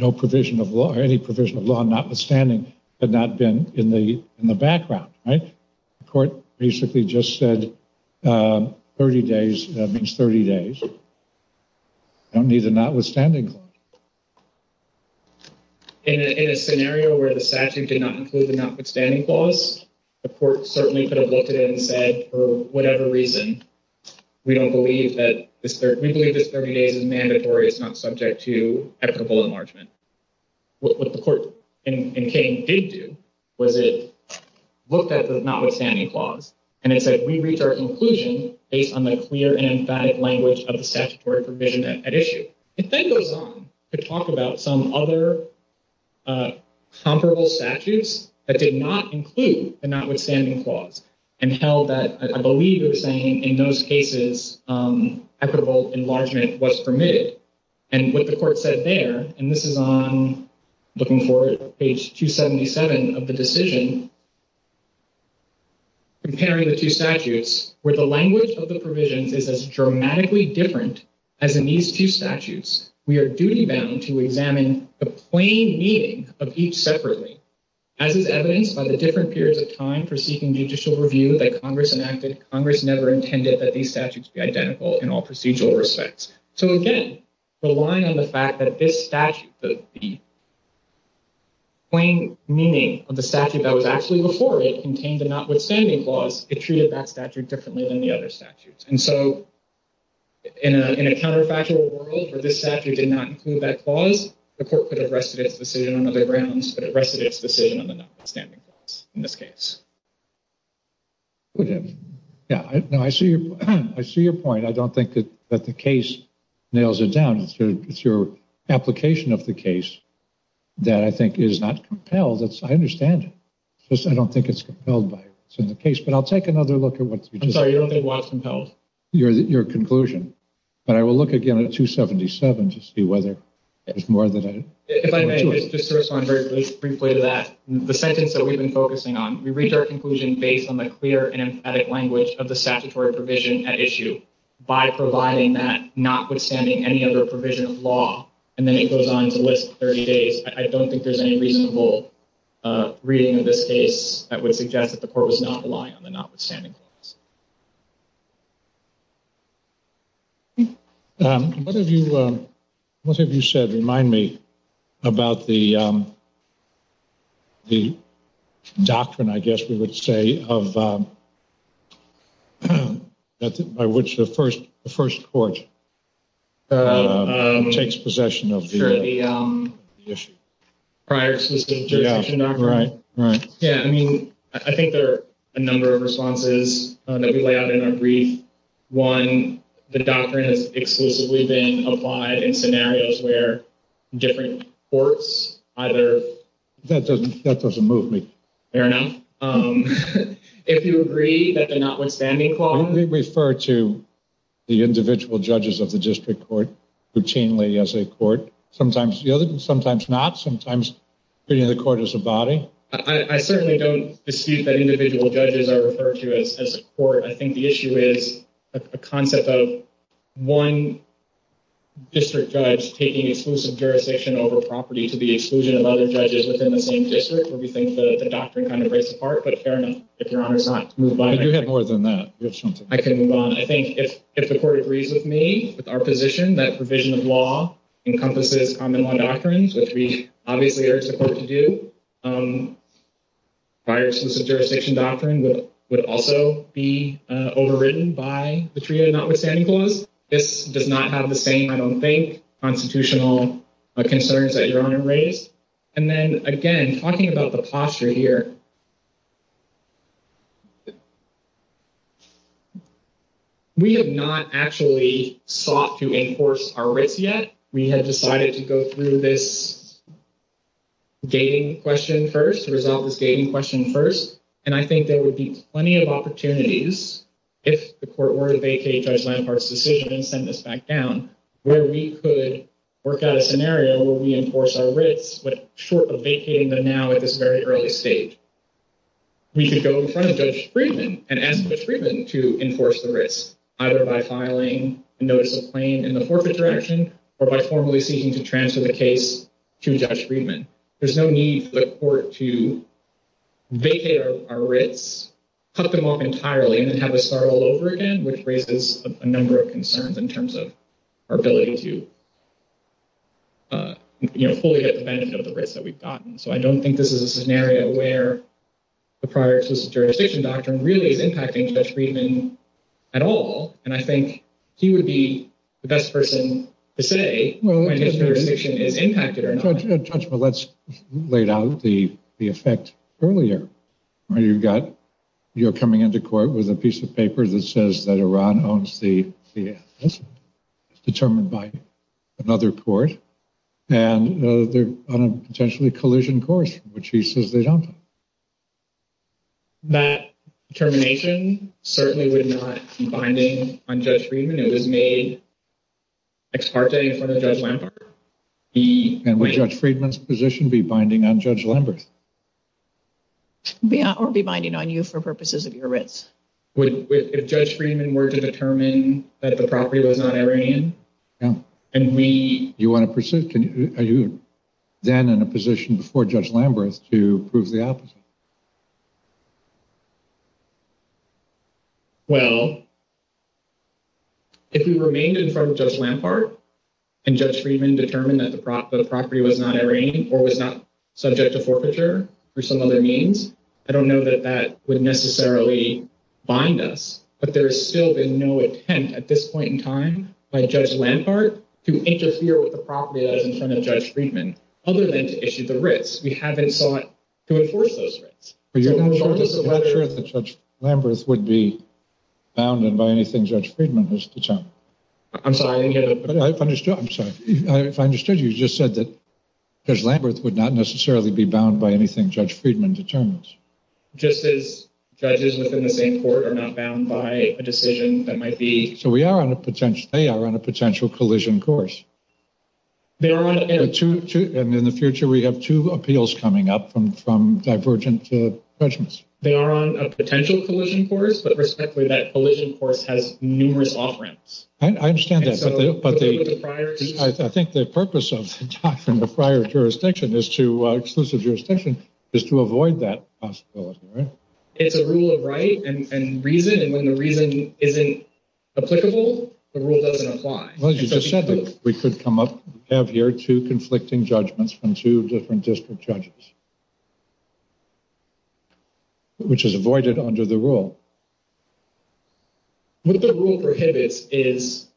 no provision of law or any provision of law notwithstanding had not been in the background, right? The court recently just said 30 days. That means 30 days. That would be the notwithstanding clause. In a scenario where the statute did not include the notwithstanding clause, the court certainly could have looked at it and said, for whatever reason, we don't believe that, we believe that 30 days is mandatory. It's not subject to equitable enlargement. What the court in Kane did do was it looked at the notwithstanding clause and it said, we research inclusion based on the clear and emphatic language of the statutory provision at issue. And then it went on to talk about some other comparable statutes that did not include the notwithstanding clause and held that, I believe it was saying in those cases, equitable enlargement was permitted. And what the court said there, and this is on, looking forward, page 277 of the decision, comparing the two statutes, where the language of the provision is as dramatically different as in these two statutes, we are duty bound to examine the plain meaning of each separately. As is evidenced by the different periods of time for seeking judicial review that Congress never intended that these statutes be identical in all procedural respects. So, again, relying on the fact that this statute, the plain meaning of the statute that was actually reported contained the notwithstanding clause, it treated that statute differently than the other statutes. And so, in a counterfactual world where this statute did not include that clause, the court could have rested its decision on other grounds, but it rested its decision on the notwithstanding clause in this case. Now, I see your point. I don't think that the case nails it down. It's your application of the case that I think is not compelled. I understand it. I don't think it's compelled by what's in the case, but I'll take another look at what's in the case. I'm sorry, you're a little less compelled. Your conclusion. But I will look again at 277 to see whether there's more than that. If I may, just to respond very briefly to that, the sentence that we've been focusing on, we reach our conclusion based on the clear and emphatic language of the statutory provision at issue by providing that notwithstanding any other provision of law. And then it goes on to list 30 days. I don't think there's any reasonable reading of this case that would suggest that the court was not relying on the notwithstanding clause. What have you said? Remind me about the doctrine, I guess we would say, by which the first court takes possession of the issue. I think there are a number of responses. One, the doctrine is exclusively being applied in scenarios where different courts either... That doesn't move me. Fair enough. If you agree that the notwithstanding clause... Don't we refer to the individual judges of the district court routinely as a court? Sometimes you do, sometimes not. Sometimes the court is a body. I certainly don't dispute that individual judges are referred to as a court. I think the issue is the concept of one district judge taking exclusive jurisdiction over property to be exclusive of other judges within the same district. We think the doctrine kind of breaks apart, but fair enough. If Your Honor's not moved on... I can move on. I think if the court agrees with me, with our position that provision of law encompasses common law doctrines, which we obviously are in support of you, prior exclusive jurisdiction doctrine would also be overridden by the treaty of notwithstanding clause. This does not have the same, I don't think, constitutional concerns that Your Honor raised. And then, again, talking about the posture here, we have not actually sought to enforce our writ yet. We have decided to go through this gating question first, to resolve this gating question first, and I think there would be plenty of opportunities if the court were to vacate Judge Leinfarth's decision and send this back down, where we could work out a scenario where we enforce our writs, but short of vacating them now at this very early stage. We could go in front of Judge Friedman and ask Judge Friedman to enforce the writs, either by filing a notice of claim in the forecourt direction or by formally seeking to transfer the case to Judge Friedman. There's no need for the court to vacate our writs, cut them off entirely, and have us start all over again, which raises a number of concerns in terms of our ability to fully get the benefit of the writs that we've gotten. So I don't think this is a scenario where the prior exclusive jurisdiction doctrine really is impacting Judge Friedman at all. And I think he would be the best person to say whether his jurisdiction is impacted or not. Let's lay out the effect earlier. You're coming into court with a piece of paper that says that Iran owns the assets, determined by another court, and they're on a potentially collision course, which he says they don't. That determination certainly would not be binding on Judge Friedman. It was made ex parte in front of Judge Lambert. And would Judge Friedman's position be binding on Judge Lambert? Yeah, it would be binding on you for purposes of your writs. If Judge Friedman were to determine that the property was not Iranian, and we... Are you then in a position before Judge Lambert to prove the opposite? Well, if we remained in front of Judge Lambert and Judge Friedman determined that the property was not Iranian or was not subject to forfeiture for some other means, I don't know that that would necessarily bind us. But there's still been no attempt at this point in time by Judge Lambert to interfere with the property that was in front of Judge Friedman, other than to issue the writs. We haven't sought to enforce those writs. But you're not sure that Judge Lambert would be bounded by anything Judge Friedman has determined? I'm sorry. I understand. I'm sorry. I understood you just said that Judge Lambert would not necessarily be bound by anything Judge Friedman determines. Just as judges within the same court are not bound by a decision that might be... So we are on a potential... They are on a potential collision course. They are on a... And in the future, we have two appeals coming up from divergent judgments. They are on a potential collision course, but respectfully, that collision course has numerous offerings. I understand that. I think the purpose of the prior jurisdiction is to avoid that possibility, right? It's a rule of right and reason, and when the reason isn't applicable, the rule doesn't apply. Well, you just said that we could have here two conflicting judgments from two different district judges, which is avoided under the rule. What the rule prohibits is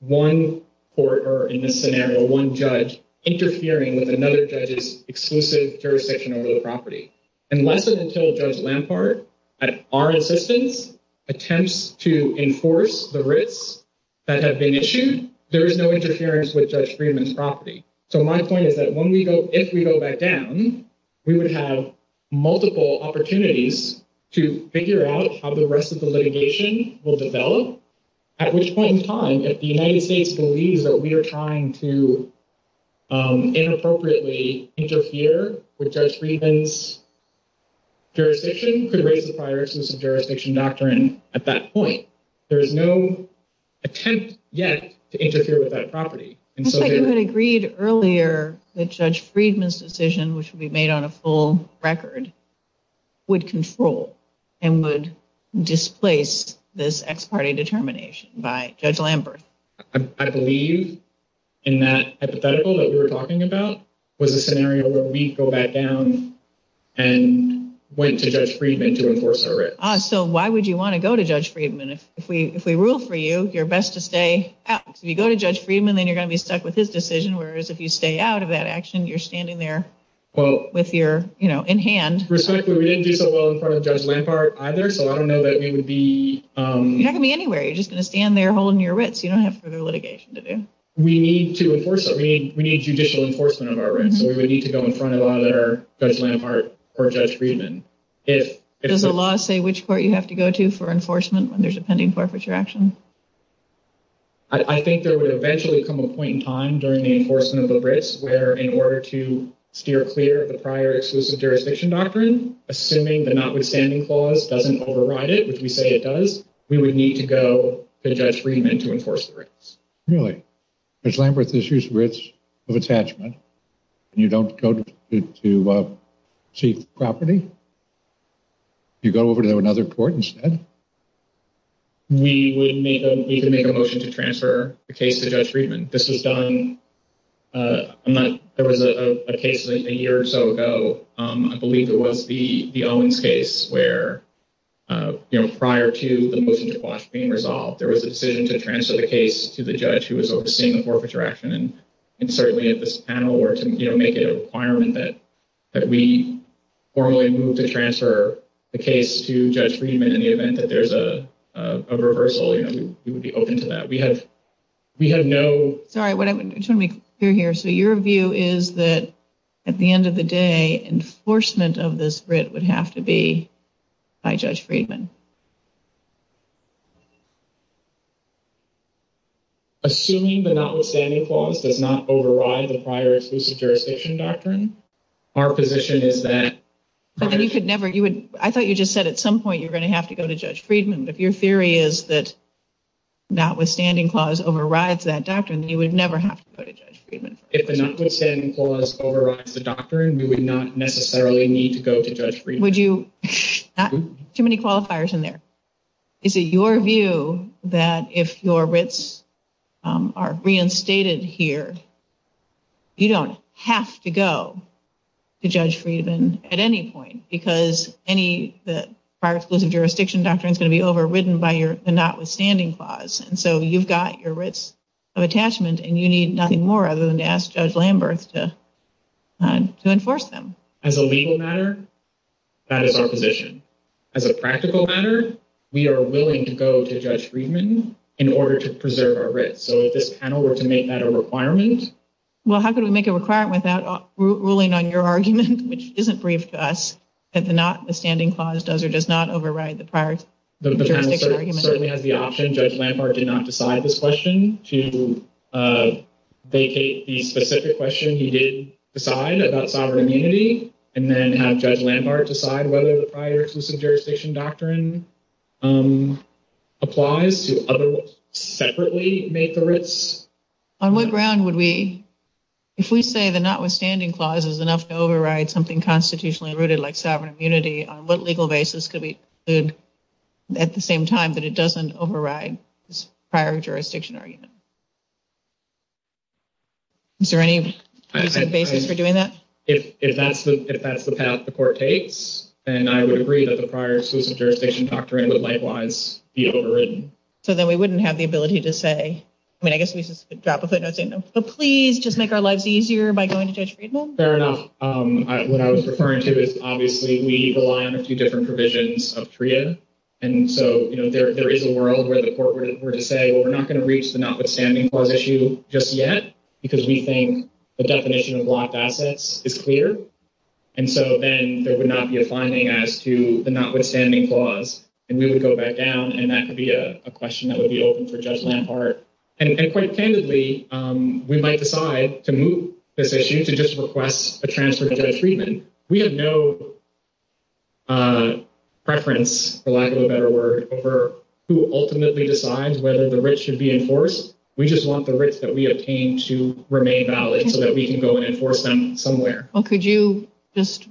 one court or, in this scenario, one judge interfering with another judge's exclusive jurisdiction over the property. Unless and until Judge Lambert, at our assistance, attempts to enforce the risks that have been issued, there is no interference with Judge Friedman's property. So my point is that if we go back down, we would have multiple opportunities to figure out how the rest of the litigation will develop, at which point in time, if the United States believes that we are trying to inappropriately interfere with Judge Friedman's jurisdiction, could raise the prior exclusive jurisdiction doctrine at that point. There is no attempt yet to interfere with that property. You said you had agreed earlier that Judge Friedman's decision, which would be made on a full record, would control and would displace this ex parte determination by Judge Lambert. I believe in that hypothetical that we were talking about was a scenario where we'd go back down and went to Judge Friedman to enforce our risk. So why would you want to go to Judge Friedman? If we rule for you, you're best to stay out. If you go to Judge Friedman, then you're going to be stuck with his decision, whereas if you stay out of that action, you're standing there in hand. Respectfully, we didn't do so well in front of Judge Lambert either, so I don't know that we would be... You're not going to be anywhere. You're just going to stand there holding your wits. You don't have further litigation to do. We need to enforce it. We need judicial enforcement in our room. We would need to go in front of Judge Lambert or Judge Friedman. Does the law say which court you have to go to for enforcement when there's a pending forfeiture action? I think there would eventually come a point in time during the enforcement of the risk where in order to steer clear of the prior exclusive jurisdiction doctrine, assuming the notwithstanding clause doesn't override it, which you say it does, we would need to go to Judge Friedman to enforce the risk. Really? Judge Lambert is just rich of attachment, and you don't go to Chief Crawfordy? You go over to another court instead? We need to make a motion to transfer the case to Judge Friedman. There was a case a year or so ago, I believe it was the Owens case, where prior to the motion being resolved, there was a decision to transfer the case to the judge who was overseeing the forfeiture action. And certainly if this panel were to make a requirement that we formally move to transfer the case to Judge Friedman in the event that there's a reversal, we would be open to that. So your view is that at the end of the day, enforcement of this writ would have to be by Judge Friedman? Assuming the notwithstanding clause does not override the prior exclusive jurisdiction doctrine, our position is that... I thought you just said at some point you were going to have to go to Judge Friedman. If your theory is that the notwithstanding clause overrides that doctrine, you would never have to go to Judge Friedman. If the notwithstanding clause overrides the doctrine, we would not necessarily need to go to Judge Friedman. Too many qualifiers in there. Is it your view that if your writs are reinstated here, you don't have to go to Judge Friedman at any point? Because the prior exclusive jurisdiction doctrine is going to be overridden by the notwithstanding clause. And so you've got your writs of attachment, and you need nothing more other than to ask Judge Lambert to enforce them. As a legal matter, that is our position. As a practical matter, we are willing to go to Judge Friedman in order to preserve our writs. So if this panel were to make that a requirement... Well, how can we make it a requirement without ruling on your argument, which isn't brief to us, that the notwithstanding clause does or does not override the prior... The panel certainly has the option, Judge Lambert did not decide this question, to vacate the specific question he did decide about sovereign immunity, and then have Judge Lambert decide whether the prior exclusive jurisdiction doctrine applies to others separately make the writs. On what ground would we... If the notwithstanding clause is enough to override something constitutionally rooted like sovereign immunity, on what legal basis could we conclude at the same time that it doesn't override this prior jurisdiction argument? Is there any basis for doing that? If that's the path the court takes, then I would agree that the prior exclusive jurisdiction doctrine would likewise be overridden. So then we wouldn't have the ability to say... Please just make our lives easier by going to Judge Friedman. Fair enough. What I was referring to is obviously we rely on a few different provisions of TREA, and so there is a world where the court were to say, well, we're not going to reach the notwithstanding clause issue just yet, because we think the definition of locked assets is clear, and so then there would not be a finding as to the notwithstanding clause, and we would go back down, and that could be a question that would be open for Judge Lampard. And quite candidly, we might decide to move this issue to just request a transfer to Judge Friedman. We have no preference, for lack of a better word, over who ultimately decides whether the writs should be enforced. We just want the writs that we obtain to remain valid so that we can go and enforce them somewhere. Well, could you just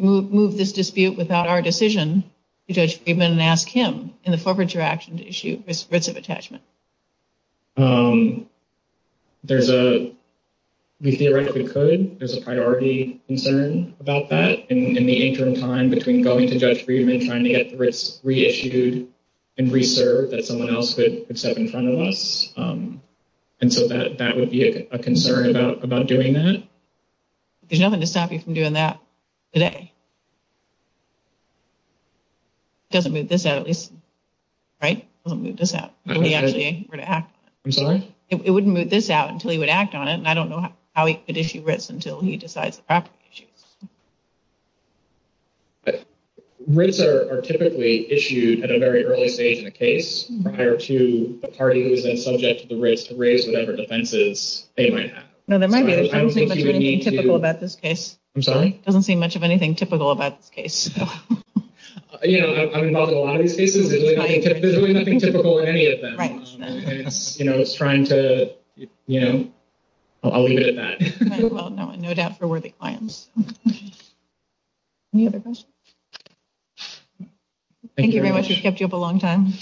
move this dispute without our decision to Judge Friedman and ask him in the forfeiture action to issue writs of attachment? We theoretically could. There's a priority concern about that in the interim time between going to Judge Friedman and trying to get the writs reissued and reserved that someone else could step in front of us, and so that would be a concern about doing that. There's nothing to stop you from doing that today. He doesn't move this out, at least, right? He wouldn't move this out until he would act on it. I'm sorry? He wouldn't move this out until he would act on it, and I don't know how he could issue writs until he decides the proper issue. Writs are typically issued at a very early stage in a case prior to a party who is then subject to the writs to raise whatever defenses they might have. No, there might be. I don't think you would need to— I don't think there's anything typical about this case. I'm sorry? It doesn't seem much of anything typical about this case. You know, I'm involved in a lot of these cases. There's really nothing typical in any of them. Right. You know, it's trying to, you know—I'll leave it at that. Well, no doubt for worthy clients. Any other questions? Thank you very much. This kept you up a long time.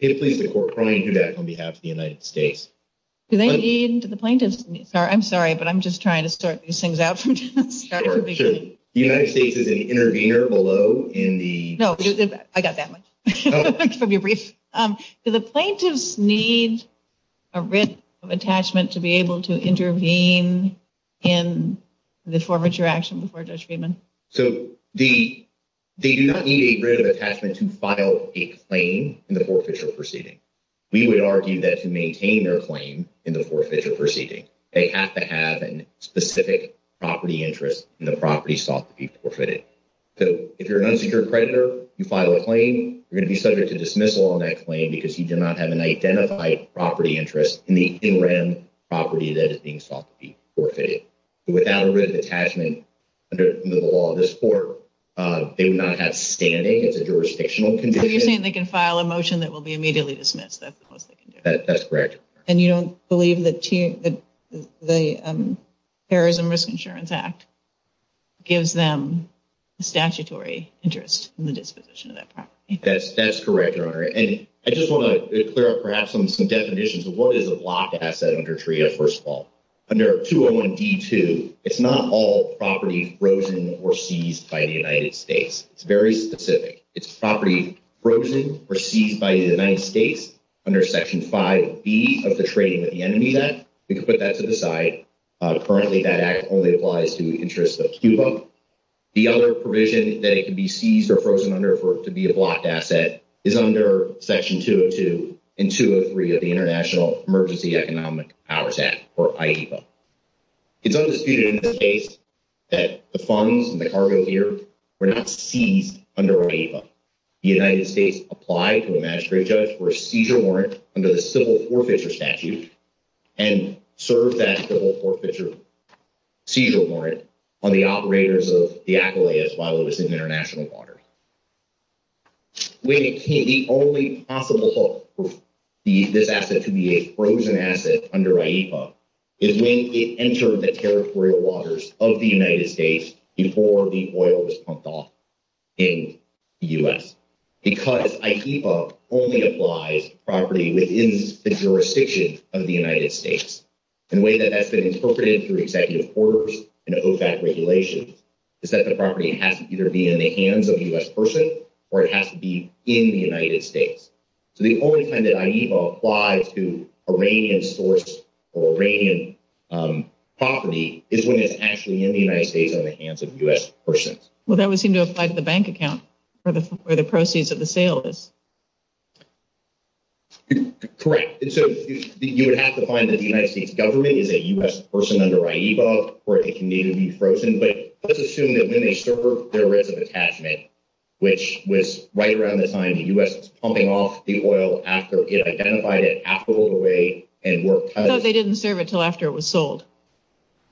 Do they aim to the plaintiffs? I'm sorry, but I'm just trying to sort these things out. Sure, sure. The United States is an intervener below in the— No, I got that one. Let me be brief. Do the plaintiffs need a writ of attachment to be able to intervene in the forfeiture action before judgment? So they do not need a writ of attachment to file a claim in the forfeiture proceeding. We would argue that to maintain their claim in the forfeiture proceeding, they have to have a specific property interest in the property sought to be forfeited. So if you're an unsecured creditor, you file a claim, you're going to be subject to dismissal on that claim because you do not have an identified property interest in the land property that is being sought to be forfeited. Without a writ of attachment under the law of this court, they would not have standing as a jurisdictional condition. So you're saying they can file a motion that will be immediately dismissed? That's correct. And you don't believe that the Terrorism Risk Insurance Act gives them statutory interest in the disposition of that property? That's correct, Your Honor. And I just want to clear up perhaps some definitions of what is a block asset under TREA, first of all. Under 201D2, it's not all property frozen or seized by the United States. It's very specific. It's property frozen or seized by the United States under Section 5B of the Trading with the Enemy Act. We can put that to the side. Currently, that act only applies to interest of SCUPA. The other provision that it can be seized or frozen under to be a block asset is under Section 202 and 203 of the International Emergency Economic Powers Act, or IEPA. It's also stated in this case that the funds and the cargo here were not seized under IEPA. The United States applied to the magistrate judge for a seizure warrant under the Civil Forfeiture Statute and served that Civil Forfeiture seizure warrant on the operators of the Aquileas while it was in international waters. The only possible hope for this asset to be a frozen asset under IEPA is when it entered the territorial waters of the United States before the oil was pumped off in the U.S. Because IEPA only applies property within the jurisdiction of the United States. The way that that's been interpreted through executive orders and OFAC regulations is that the property has to either be in the hands of a U.S. person or it has to be in the United States. So the only time that IEPA applies to Iranian source or Iranian property is when it's actually in the United States or in the hands of U.S. persons. Well, that would seem to apply to the bank account where the proceeds of the sale is. Correct. So you would have to find that the United States government is a U.S. person under IEPA for it to need to be frozen. But let's assume that when they serve their risk of attachment, which was right around the time the U.S. was pumping off the oil after it identified it, after it was away and were cut. So they didn't serve it until after it was sold.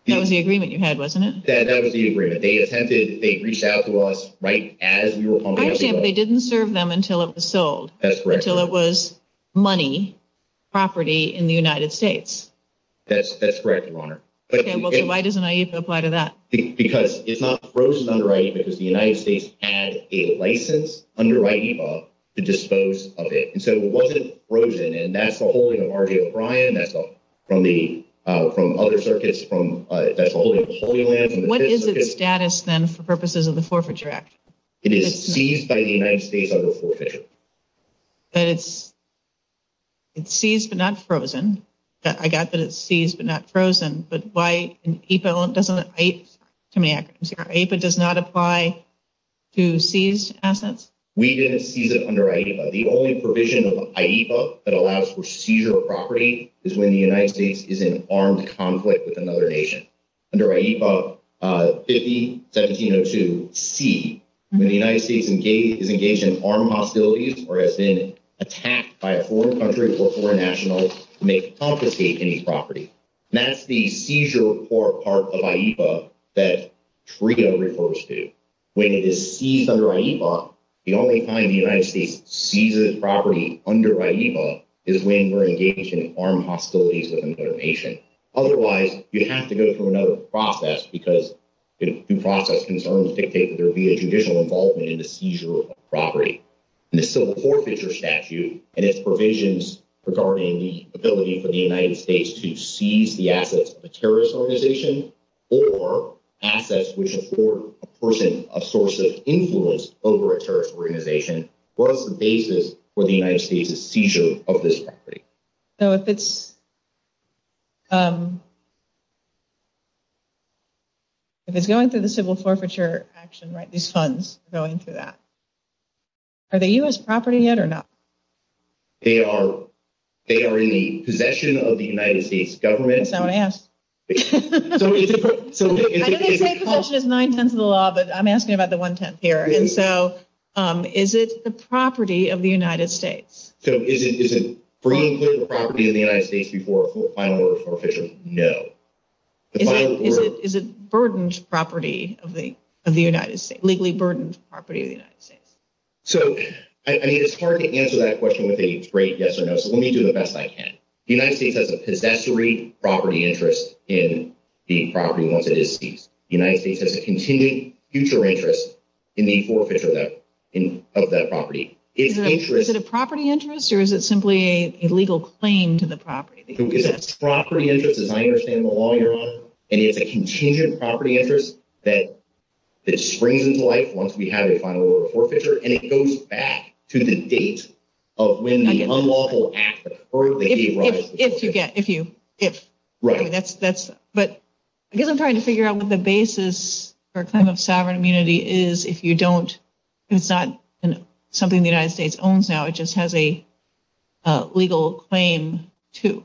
That was the agreement you had, wasn't it? That was the agreement. They attempted, they reached out to us right as we were pumping the oil. So they didn't serve them until it was sold. That's correct. Until it was money, property in the United States. That's correct, Your Honor. Why does an IEPA apply to that? Because it's not frozen under IEPA because the United States had a license under IEPA to dispose of it. So it wasn't frozen and that's the holding of R.J. O'Brien, that's from other circuits, that's the holding of Julian. What is its status then for purposes of the Forfeiture Act? It is seized by the United States under Forfeiture. It's seized but not frozen. I got that it's seized but not frozen. But why doesn't IEPA apply to seized assets? We didn't seize it under IEPA. The only provision of IEPA that allows for seizure of property is when the United States is in armed conflict with another nation. Under IEPA 50-1702C, when the United States is engaged in armed hostilities or has been attacked by a foreign country or foreign national to make confiscate any property. That's the seizure part of IEPA that TRIO refers to. When it is seized under IEPA, the only time the United States seizes property under IEPA is when we're engaged in armed hostilities with another nation. Otherwise, we have to go through another process because the process concerns that there would be a judicial involvement in the seizure of property. This is a forfeiture statute and its provisions regarding the ability for the United States to seize the assets of a terrorist organization or assets which afford a person a source of influence over a terrorist organization. What is the basis for the United States' seizure of this property? If it's going through the civil forfeiture action, these funds are going through that. Are they U.S. property yet or not? They are in the possession of the United States government. Don't ask. I didn't take possession of nine-tenths of the law, but I'm asking about the one-tenth here. Is it the property of the United States? So is it, for you, the property of the United States before a final order of forfeiture? No. Is it burdened property of the United States, legally burdened property of the United States? So, I mean, it's hard to answer that question with a great yes or no, so let me do the best I can. The United States has a possessory property interest in the property once it is seized. The United States has a continuing future interest in the forfeiture of that property. Is it a property interest or is it simply a legal claim to the property? It's a property interest, as I understand the law you're on, and it's a contingent property interest that springs into light once we have a final order of forfeiture, and it goes back to the date of when the unlawful act occurred. If you get, if you, if. Right. But I guess I'm trying to figure out what the basis for a claim of sovereign immunity is. If you don't, it's not something the United States owns now. It just has a legal claim to.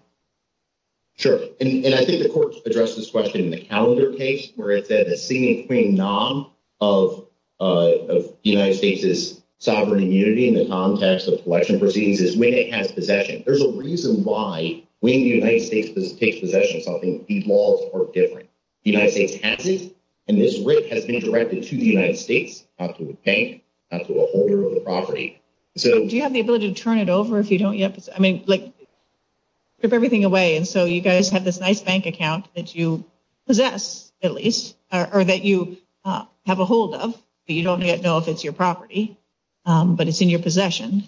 Sure. And I think the court addressed this question in the calendar case, where it said a sitting and claiming non of the United States' sovereign immunity in the context of selection proceedings is when it has possession. There's a reason why when the United States takes possession of something, these laws are different. The United States has this, and this rig has been directed to the United States, not to the bank, not to a holder of the property. So. Do you have the ability to turn it over if you don't yet? I mean, like, strip everything away. And so you guys have this nice bank account that you possess, at least, or that you have a hold of, but you don't yet know if it's your property, but it's in your possession.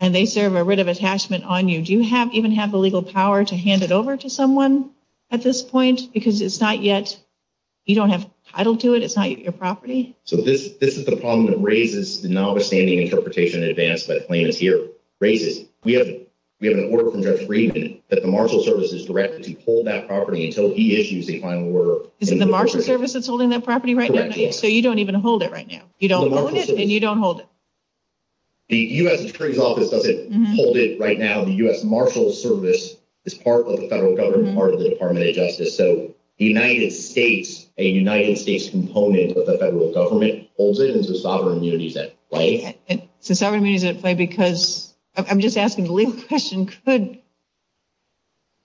And they serve a writ of attachment on you. Do you even have the legal power to hand it over to someone at this point? Because it's not yet. You don't have a title to it. It's not your property. So this is the problem that raises the non-abstaining interpretation advanced by claims here. Raises. We have an order of conduct agreement that the marshal service is directed to hold that property until he issues a final order. Is the marshal service that's holding that property right now? Correct. So you don't even hold it right now. You don't own it, and you don't hold it. The U.S. Security Office doesn't hold it right now. The U.S. Marshal Service is part of the federal government, part of the Department of Justice. So the United States, a United States component of the federal government, holds it. It's a sovereign immunity that's at play. It's a sovereign immunity at play because I'm just asking the legal question, could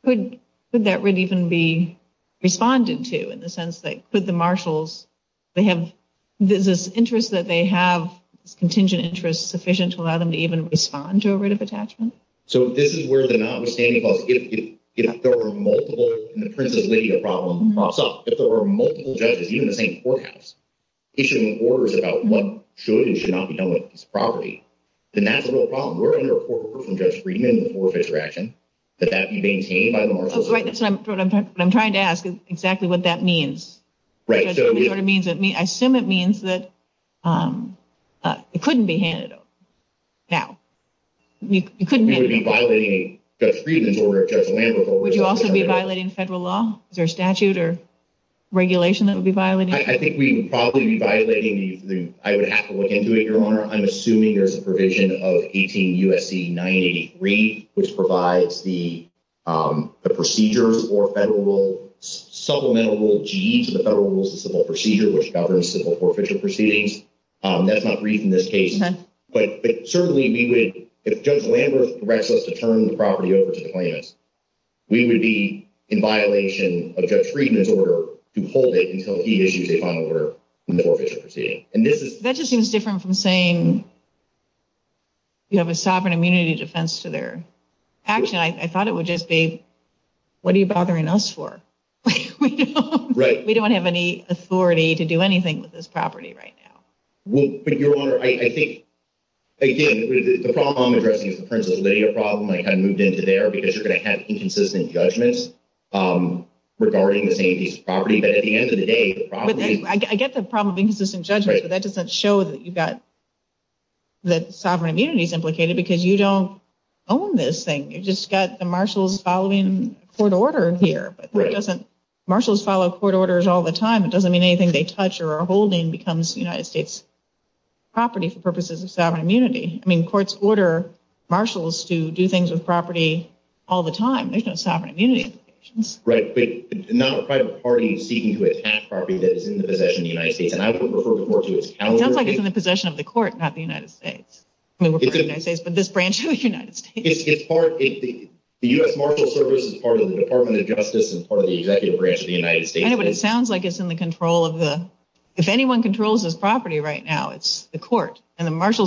that writ even be responded to in the sense that could the marshals, they have this interest that they have, this contingent interest, sufficient to allow them to even respond to a writ of attachment? So this is where the non-abstaining clause, if there were multiple, in the terms of legal problems, if there were multiple judges, even the same courthouse, issuing orders about what should and should not be done with this property, then that's a real problem. We're under a four-person judge agreement in the four-office direction. Could that be maintained by the marshal service? What I'm trying to ask is exactly what that means. I assume it means that it couldn't be handed over. We would be violating Judge Friedman's order, Judge Lambert's order. Would you also be violating federal law? Is there a statute or regulation that would be violating it? I think we would probably be violating the, I would have to look into it, Your Honor. I'm assuming there's a provision of 18 U.S.C. 983, which provides the procedures or supplemental rules, the federal rules of civil procedure, which governs civil court official proceedings. That's not agreed in this case. But certainly we would, if Judge Lambert directs us to turn the property over to the plaintiffs, we would be in violation of Judge Friedman's order to hold it until he issues a final order in the court official proceeding. That just seems different from saying you have a sovereign immunity defense to their action. I thought it would just be, what are you bothering us for? We don't have any authority to do anything with this property right now. Well, Your Honor, I think, again, the problem I'm addressing concerns a legal problem, and I kind of moved into there, because you're going to have inconsistent judgments regarding this property. I get the problem of inconsistent judgments, but that doesn't show that you've got the sovereign immunities implicated, because you don't own this thing. You've just got the marshals following court order here. Marshals follow court orders all the time. It doesn't mean anything they touch or are holding becomes United States property for purposes of sovereign immunity. I mean, courts order marshals to do things with property all the time. They've got sovereign immunity implications. Right. It's not a federal party seeking to attack property that is in the possession of the United States, and I would refer to it as counter-property. It sounds like it's in the possession of the court, not the United States. I mean, we're talking about the United States, but this branch of the United States. The U.S. Marshals Service is part of the Department of Justice and part of the executive branch of the United States. Anyway, it sounds like it's in the control of the – if anyone controls this property right now, it's the court, I would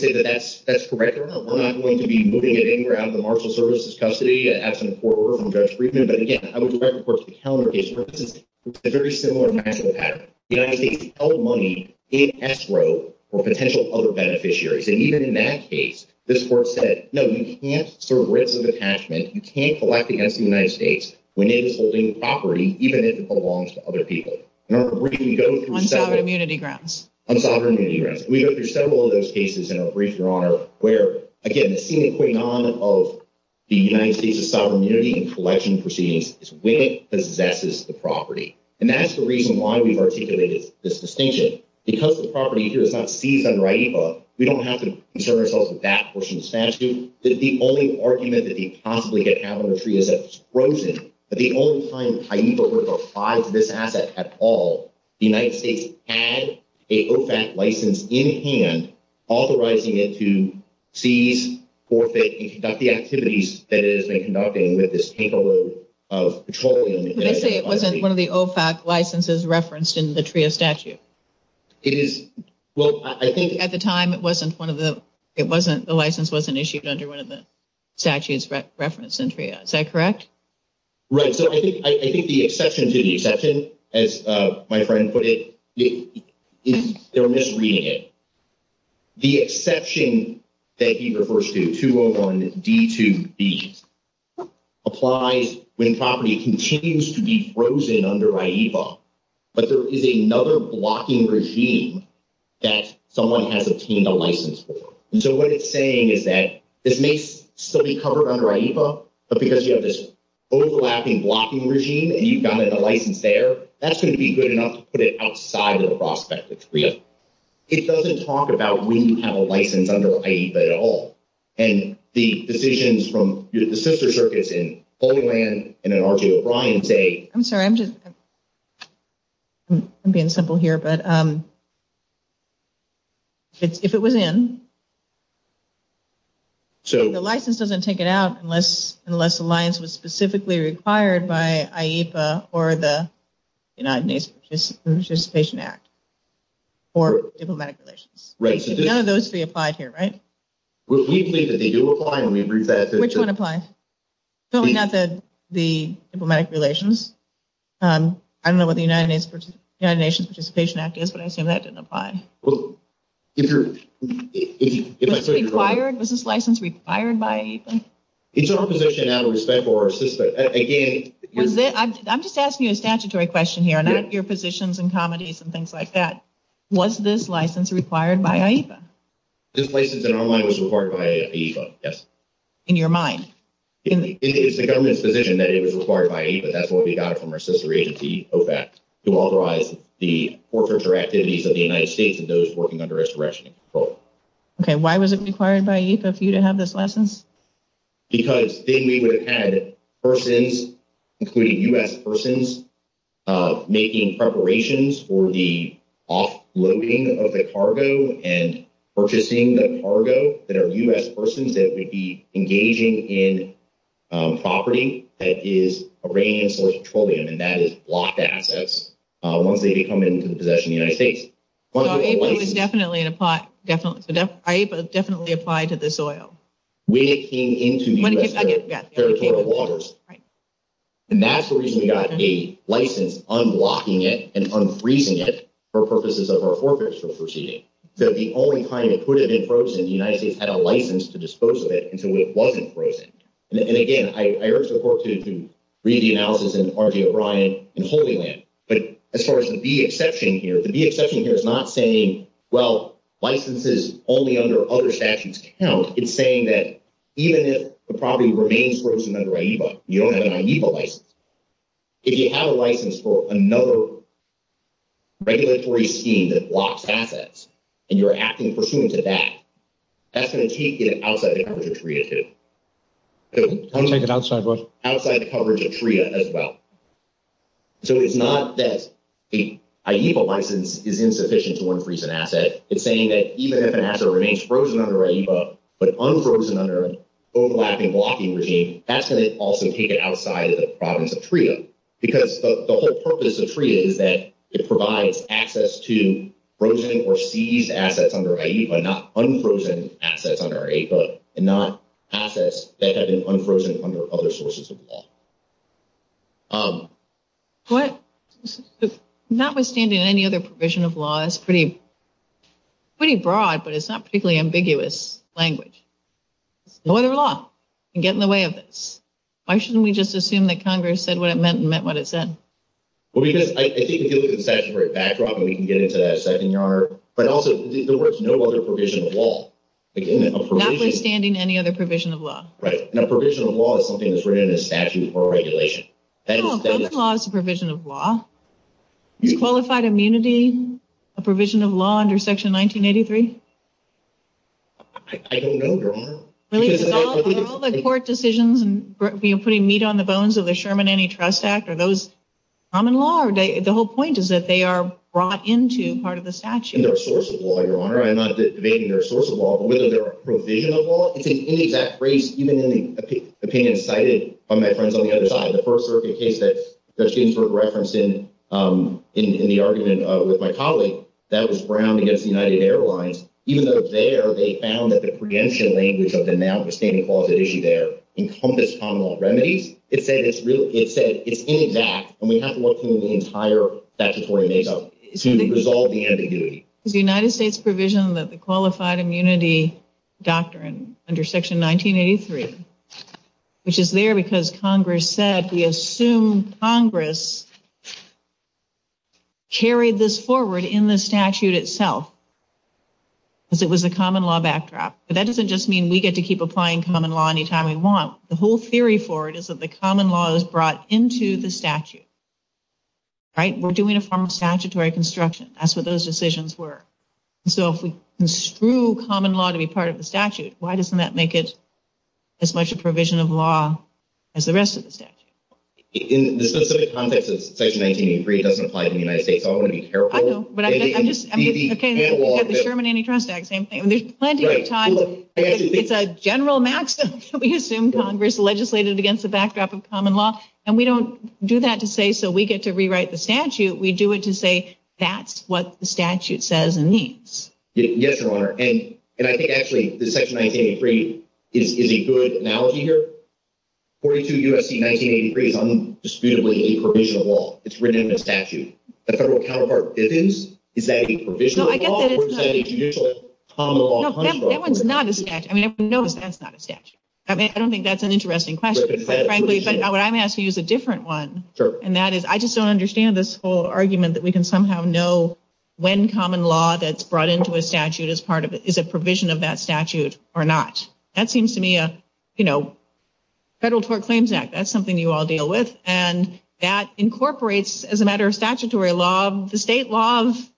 say that that's correct. We're not going to be moving it anywhere out of the Marshals Service's custody. It has some court order from Judge Friedman. But, again, I would refer, of course, to the calendar case. This is a very similar mathematical pattern. The United States held money in escrow for potential other beneficiaries. And even in that case, this court said, no, you can't serve ransom detachment. You can't collect against the United States when it is holding property even if it belongs to other people. On sovereign immunity grounds. On sovereign immunity grounds. We go through several of those cases in our brief, Your Honor, where, again, the key to putting on of the United States' sovereign immunity in collection proceedings is when it possesses the property. And that's the reason why we articulated this distinction. Because the property here is not seized under AIPA, we don't have to concern ourselves with that. The only argument that we could possibly get out of the TRIA is that it's frozen. At the only time that AIPA was required for this asset at all, the United States had a OFAC license in hand, authorizing it to seize, forfeit, and conduct the activities that it has been conducting with this takeover of petroleum. Would you say it wasn't one of the OFAC licenses referenced in the TRIA statute? Well, I think at the time it wasn't one of the – the license wasn't issued under one of the statute's reference in TRIA. Is that correct? Right. So I think the exception to the exception, as my friend put it, is they're misreading it. The exception that he refers to, 201D2B, applies when property continues to be frozen under AIPA. But there is another blocking regime that someone has obtained a license for. And so what it's saying is that this may still be covered under AIPA, but because you have this overlapping blocking regime and you've got a license there, that's going to be good enough to put it outside of the prospect of TRIA. It doesn't talk about when you have a license under AIPA at all. And the decisions from – the sister circuits in Holy Land and in R.J. O'Brien say – I'm being simple here, but if it was in, the license doesn't take it out unless the license was specifically required by AIPA or the United Nations Participation Act or diplomatic relations. Right. So none of those three apply here, right? We believe that they do apply. Which one applies? No, we've not said the diplomatic relations. I don't know what the United Nations Participation Act is, but I assume that doesn't apply. Well, if you're – Was this license required by AIPA? It's our position out of respect for our sister – I'm just asking you a statutory question here, not your positions and comedies and things like that. Was this license required by AIPA? This license, in my mind, was required by AIPA, yes. In your mind? It's the government's position that it was required by AIPA. That's what we got from our sister agency, OPEC, to authorize the portraits or activities of the United States and those working under its direction. Okay. Why was it required by AIPA for you to have this license? Because then we would have had persons, including U.S. persons, making preparations for the offloading of the cargo and purchasing the cargo that are U.S. persons that would be engaging in property that is Iranian-sourced petroleum, and that is blocked assets once they become into the possession of the United States. Well, AIPA definitely applied to this oil. When it came into U.S. territorial waters. Right. And that's the reason we got a license unblocking it and unfreezing it for purposes of our forfeiture procedure, that the only time it could have been frozen, the United States had a license to dispose of it until it wasn't frozen. And, again, I urge the court to read the analysis in Harvey O'Brien and Holy Land. But as far as the D exception here, the D exception here is not saying, well, licenses only under other statutes count. It's saying that even if the property remains frozen under AIPA, you don't have an AIPA license. If you have a license for another regulatory scheme that blocks assets and you're acting pursuant to that, that's going to keep you outside the coverage of TREA, too. Outside what? Outside the coverage of TREA as well. So it's not that the AIPA license is insufficient to unfreeze an asset. It's saying that even if an asset remains frozen under AIPA but unfrozen under overlapping blocking regime, that's going to also keep it outside of the coverage of TREA. Because the whole purpose of TREA is that it provides access to frozen or seized assets under AIPA, not unfrozen assets under AIPA and not assets that have been unfrozen under other sources of law. What? Notwithstanding any other provision of law, that's pretty broad, but it's not a particularly ambiguous language. Lawyer law can get in the way of this. Why shouldn't we just assume that Congress said what it meant and meant what it said? Well, because I think it gives us a statutory backdrop and we can get into that second yard. But also, there was no other provision of law. Notwithstanding any other provision of law. Right. And a provision of law is something that's written in a statute or a regulation. Common law is a provision of law. Qualified immunity, a provision of law under Section 1983? I don't know, Your Honor. All the court decisions, putting meat on the bones of the Sherman Antitrust Act, are those common law? The whole point is that they are brought into part of the statute. They're a source of law, Your Honor. I'm not debating they're a source of law. But whether they're a provision of law? I think any of that phrase, even in the opinion cited by my friends on the other side, the first terrific case that their students were referencing in the argument with my colleague, that was Brown v. United Airlines. Even though there they found that the preemption language of the now-withstanding clause at issue there encompassed common law remedies, it said it's in fact, and we have to look through the entire statutory makeup to resolve the ambiguity. The United States provision of the Qualified Immunity Doctrine under Section 1983, which is there because Congress said, we assume Congress carried this forward in the statute itself. Because it was a common law backdrop. But that doesn't just mean we get to keep applying common law any time we want. The whole theory for it is that the common law is brought into the statute. Right? We're doing a form of statutory construction. That's what those decisions were. So if we construe common law to be part of the statute, why doesn't that make it as much a provision of law as the rest of the statute? In the specific context that Section 1983 doesn't apply to the United States, I want to be careful. I know, but I'm just, okay. It's like the Sherman-Amy Trostag, same thing. There's plenty of time. It's a general maxim. We assume Congress legislated against the backdrop of common law. And we don't do that to say, so we get to rewrite the statute. We do it to say, that's what the statute says and means. Yes, Your Honor. And I think, actually, that Section 1983 is a good analogy here. 42 U.S.C. 1983 is undisputably a provision of law. It's written in the statute. The federal counterpart bippings, is that a provisional law or is that a judicial common law? No, that one's not a statute. I mean, if you notice, that's not a statute. I don't think that's an interesting question, frankly. But I'm going to have to use a different one. And that is, I just don't understand this whole argument that we can somehow know when common law that's brought into a statute is a provision of that statute or not. That seems to me a, you know, Federal Tort Claims Act. That's something you all deal with. And that incorporates, as a matter of statutory law, the state laws,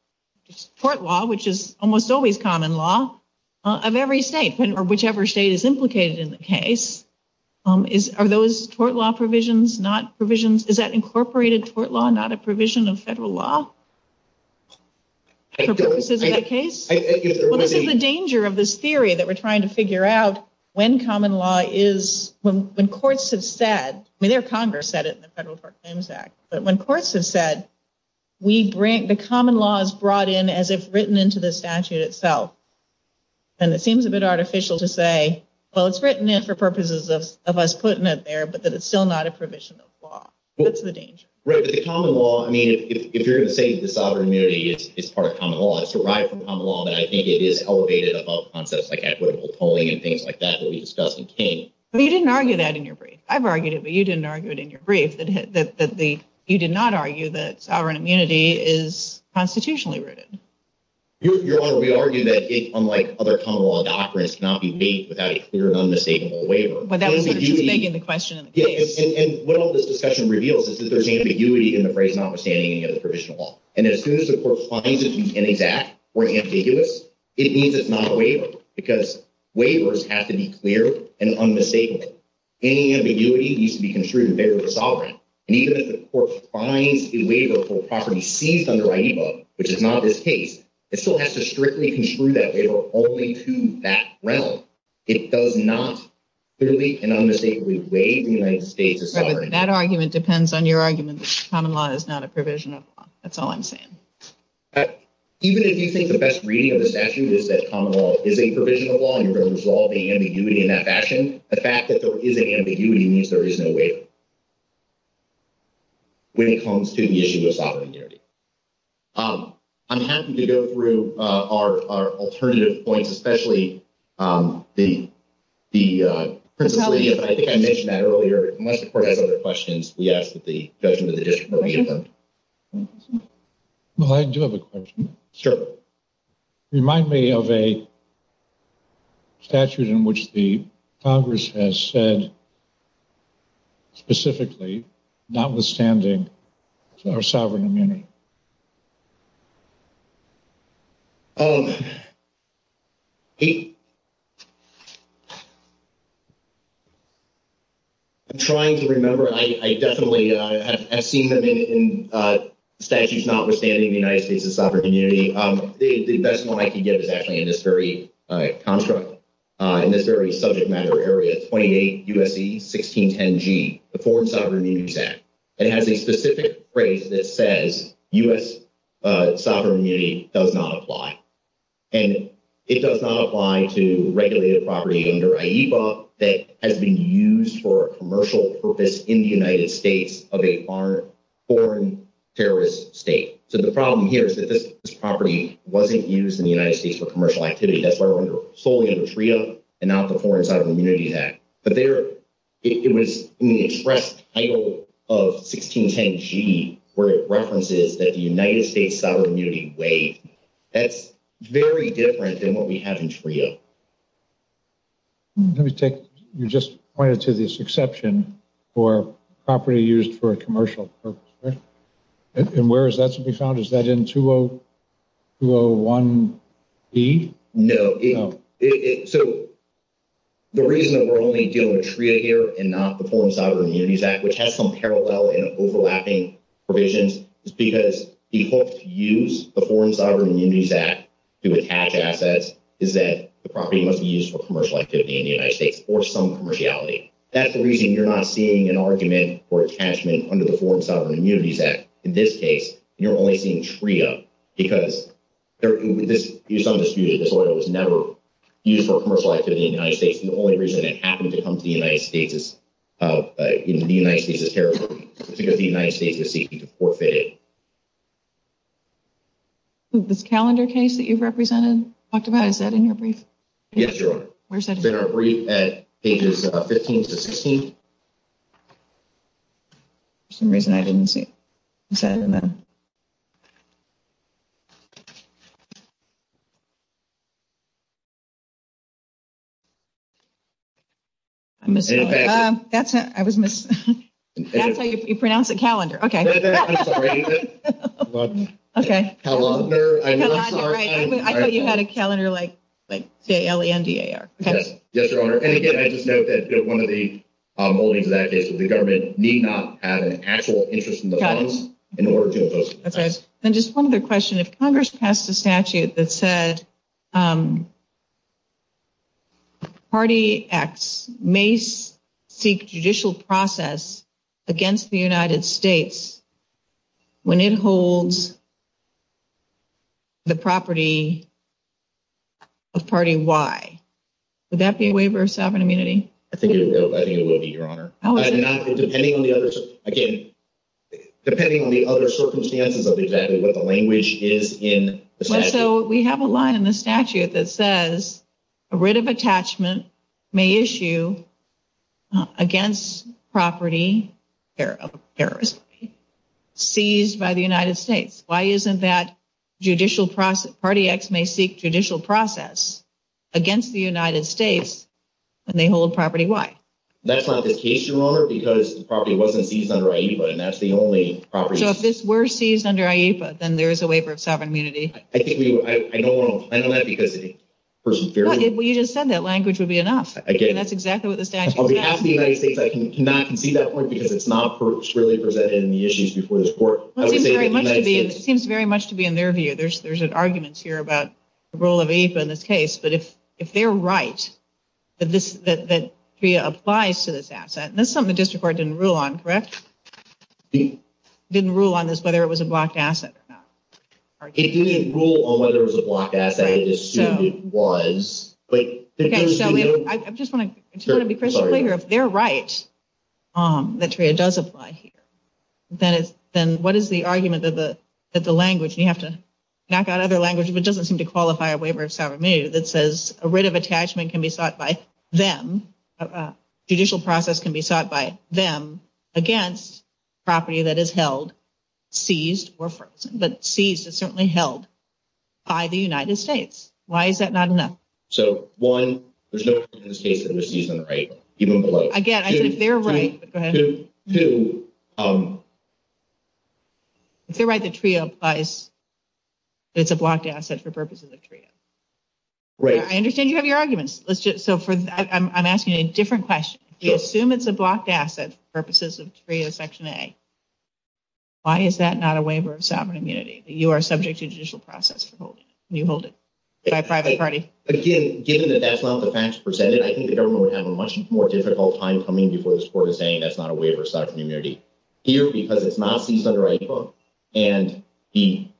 tort law, which is almost always common law, of every state, whichever state is implicated in the case. Are those tort law provisions, not provisions? Is that incorporated tort law, not a provision of federal law? For purposes of the case? Well, this is the danger of this theory that we're trying to figure out, when common law is, when courts have said, I mean, their Congress said it in the Federal Tort Claims Act. But when courts have said, the common law is brought in as if written into the statute itself. And it seems a bit artificial to say, well, it's written in for purposes of us putting it there, but that it's still not a provision of law. That's the danger. Right, but the common law, I mean, if you're going to say that sovereign immunity is part of common law, it's derived from common law, but I think it is elevated above concepts like equitable polling and things like that that we discussed in Kane. But you didn't argue that in your brief. I've argued it, but you didn't argue it in your brief, that you did not argue that sovereign immunity is constitutionally rooted. Your Honor, we argue that it, unlike other common law documents, cannot be made without a clear and unmistakable waiver. But that's what you're taking the question. Yeah, and what all this discussion reveals is that there's ambiguity in the phrase notwithstanding any other provision of law. And as soon as the court finds it intended to act or ambiguous, it means it's not a waiver, because waivers have to be clear and unmistakable. Any ambiguity needs to be construed in favor of the sovereign. And even if the court finds a waiver for a property seized under IEA, which is not this case, it still has to strictly construe that waiver only to that realm. It does not clearly and unmistakably waive the United States' sovereign. But that argument depends on your argument that common law is not a provision of law. That's all I'm saying. Even if you think the best reading of the statute is that common law is a provision of law and you're going to resolve the ambiguity in that fashion, I think the fact that there is an ambiguity means there is no waiver when it comes to the issue of sovereignty. I'm happy to go through our alternative points, especially the principles. But I think I mentioned that earlier. Unless the court has other questions, we ask that the judge with a different opinion. Sure. Remind me of a statute in which the Congress has said specifically notwithstanding our sovereign immunity. I'm trying to remember. I definitely have seen them in statutes notwithstanding the United States' sovereign immunity. The decimal I can give is actually in this very contract, in this very subject matter area. 28 U.S.C. 1610G, the Foreign Sovereign Immunity Act. It has a specific phrase that says U.S. sovereign immunity does not apply. And it does not apply to regulated property under IEPA that has been used for a commercial purpose in the United States of a foreign terrorist state. So the problem here is that this property wasn't used in the United States for commercial activity. That's why we're solely in the Freedom and not the Foreign Sovereign Immunity Act. But it was in the express title of 1610G where it references that the United States' sovereign immunity waived. That's very different than what we have in TRIA. Let me take – you just pointed to this exception for property used for a commercial purpose. And where is that to be found? Is that in 201E? No. So the reason that we're only dealing with TRIA here and not the Foreign Sovereign Immunity Act, which has some parallel and overlapping provisions, is because the folks who use the Foreign Sovereign Immunity Act to attach assets is that the property wasn't used for commercial activity in the United States or some commerciality. That's the reason you're not seeing an argument for attachment under the Foreign Sovereign Immunity Act. In this case, you're only seeing TRIA because this property was never used for commercial activity in the United States. The only reason it happened to come to the United States is because the United States is seeking to forfeit it. This calendar case that you've represented, talked about, is that in your brief? Yes, ma'am. Where is that? It's in our brief at pages 15 through 16. For some reason, I didn't see it. I don't know. I missed it. That's it. You pronounced it calendar. Okay. Okay. Calendar. I thought you had a calendar like D-A-L-E-N-D-A-R. Yes, Your Honor. And, again, I just note that one of the holdings of that case was the government need not have an actual interest in the funds in order to oppose it. Okay. And just one other question. If Congress passed a statute that said Party X may seek judicial process against the United States when it holds the property of Party Y, would that be a waiver of sovereign immunity? I think it would be, Your Honor. Oh, okay. Again, depending on the other circumstances of exactly what the language is in the statute. So, we have a line in the statute that says a writ of attachment may issue against property seized by the United States. Why isn't that judicial process – Party X may seek judicial process against the United States when they hold Property Y? That's not the case, Your Honor, because the property wasn't seized under IEFA, and that's the only property. So, if this were seized under IEFA, then there is a waiver of sovereign immunity. I think you – I know that because the person feared it. Well, you just said that language would be enough. Okay. That's exactly what the statute says. On behalf of the United States, I cannot concede that point because it's not clearly presented in the issues before this court. It seems very much to be in their view. There's an argument here about the role of IEFA in this case. But if they're right that TREA applies to this asset, that's something the district court didn't rule on, correct? Didn't rule on this, whether it was a blocked asset or not. It didn't rule on whether it was a blocked asset. I just assumed it was. I just want to be crystal clear. If they're right that TREA does apply here, then what is the argument that the language – you have to knock out other language. If it doesn't seem to qualify a waiver of sovereign immunity that says a writ of attachment can be sought by them, a judicial process can be sought by them against property that is held, seized, but seized is certainly held by the United States. Why is that not enough? So, one, there's no reason in this case that this isn't right. Again, I think they're right. Go ahead. If they're right that TREA applies, it's a blocked asset for purposes of TREA. Right. I understand you have your arguments. So, I'm asking a different question. You assume it's a blocked asset for purposes of TREA Section A. Why is that not a waiver of sovereign immunity that you are subject to a judicial process for holding? You hold it by a private party. Again, given that that's not the facts presented, I think the government would have a much more difficult time coming to this court and saying that's not a waiver of sovereign immunity here because it's not seized under IEA law. And the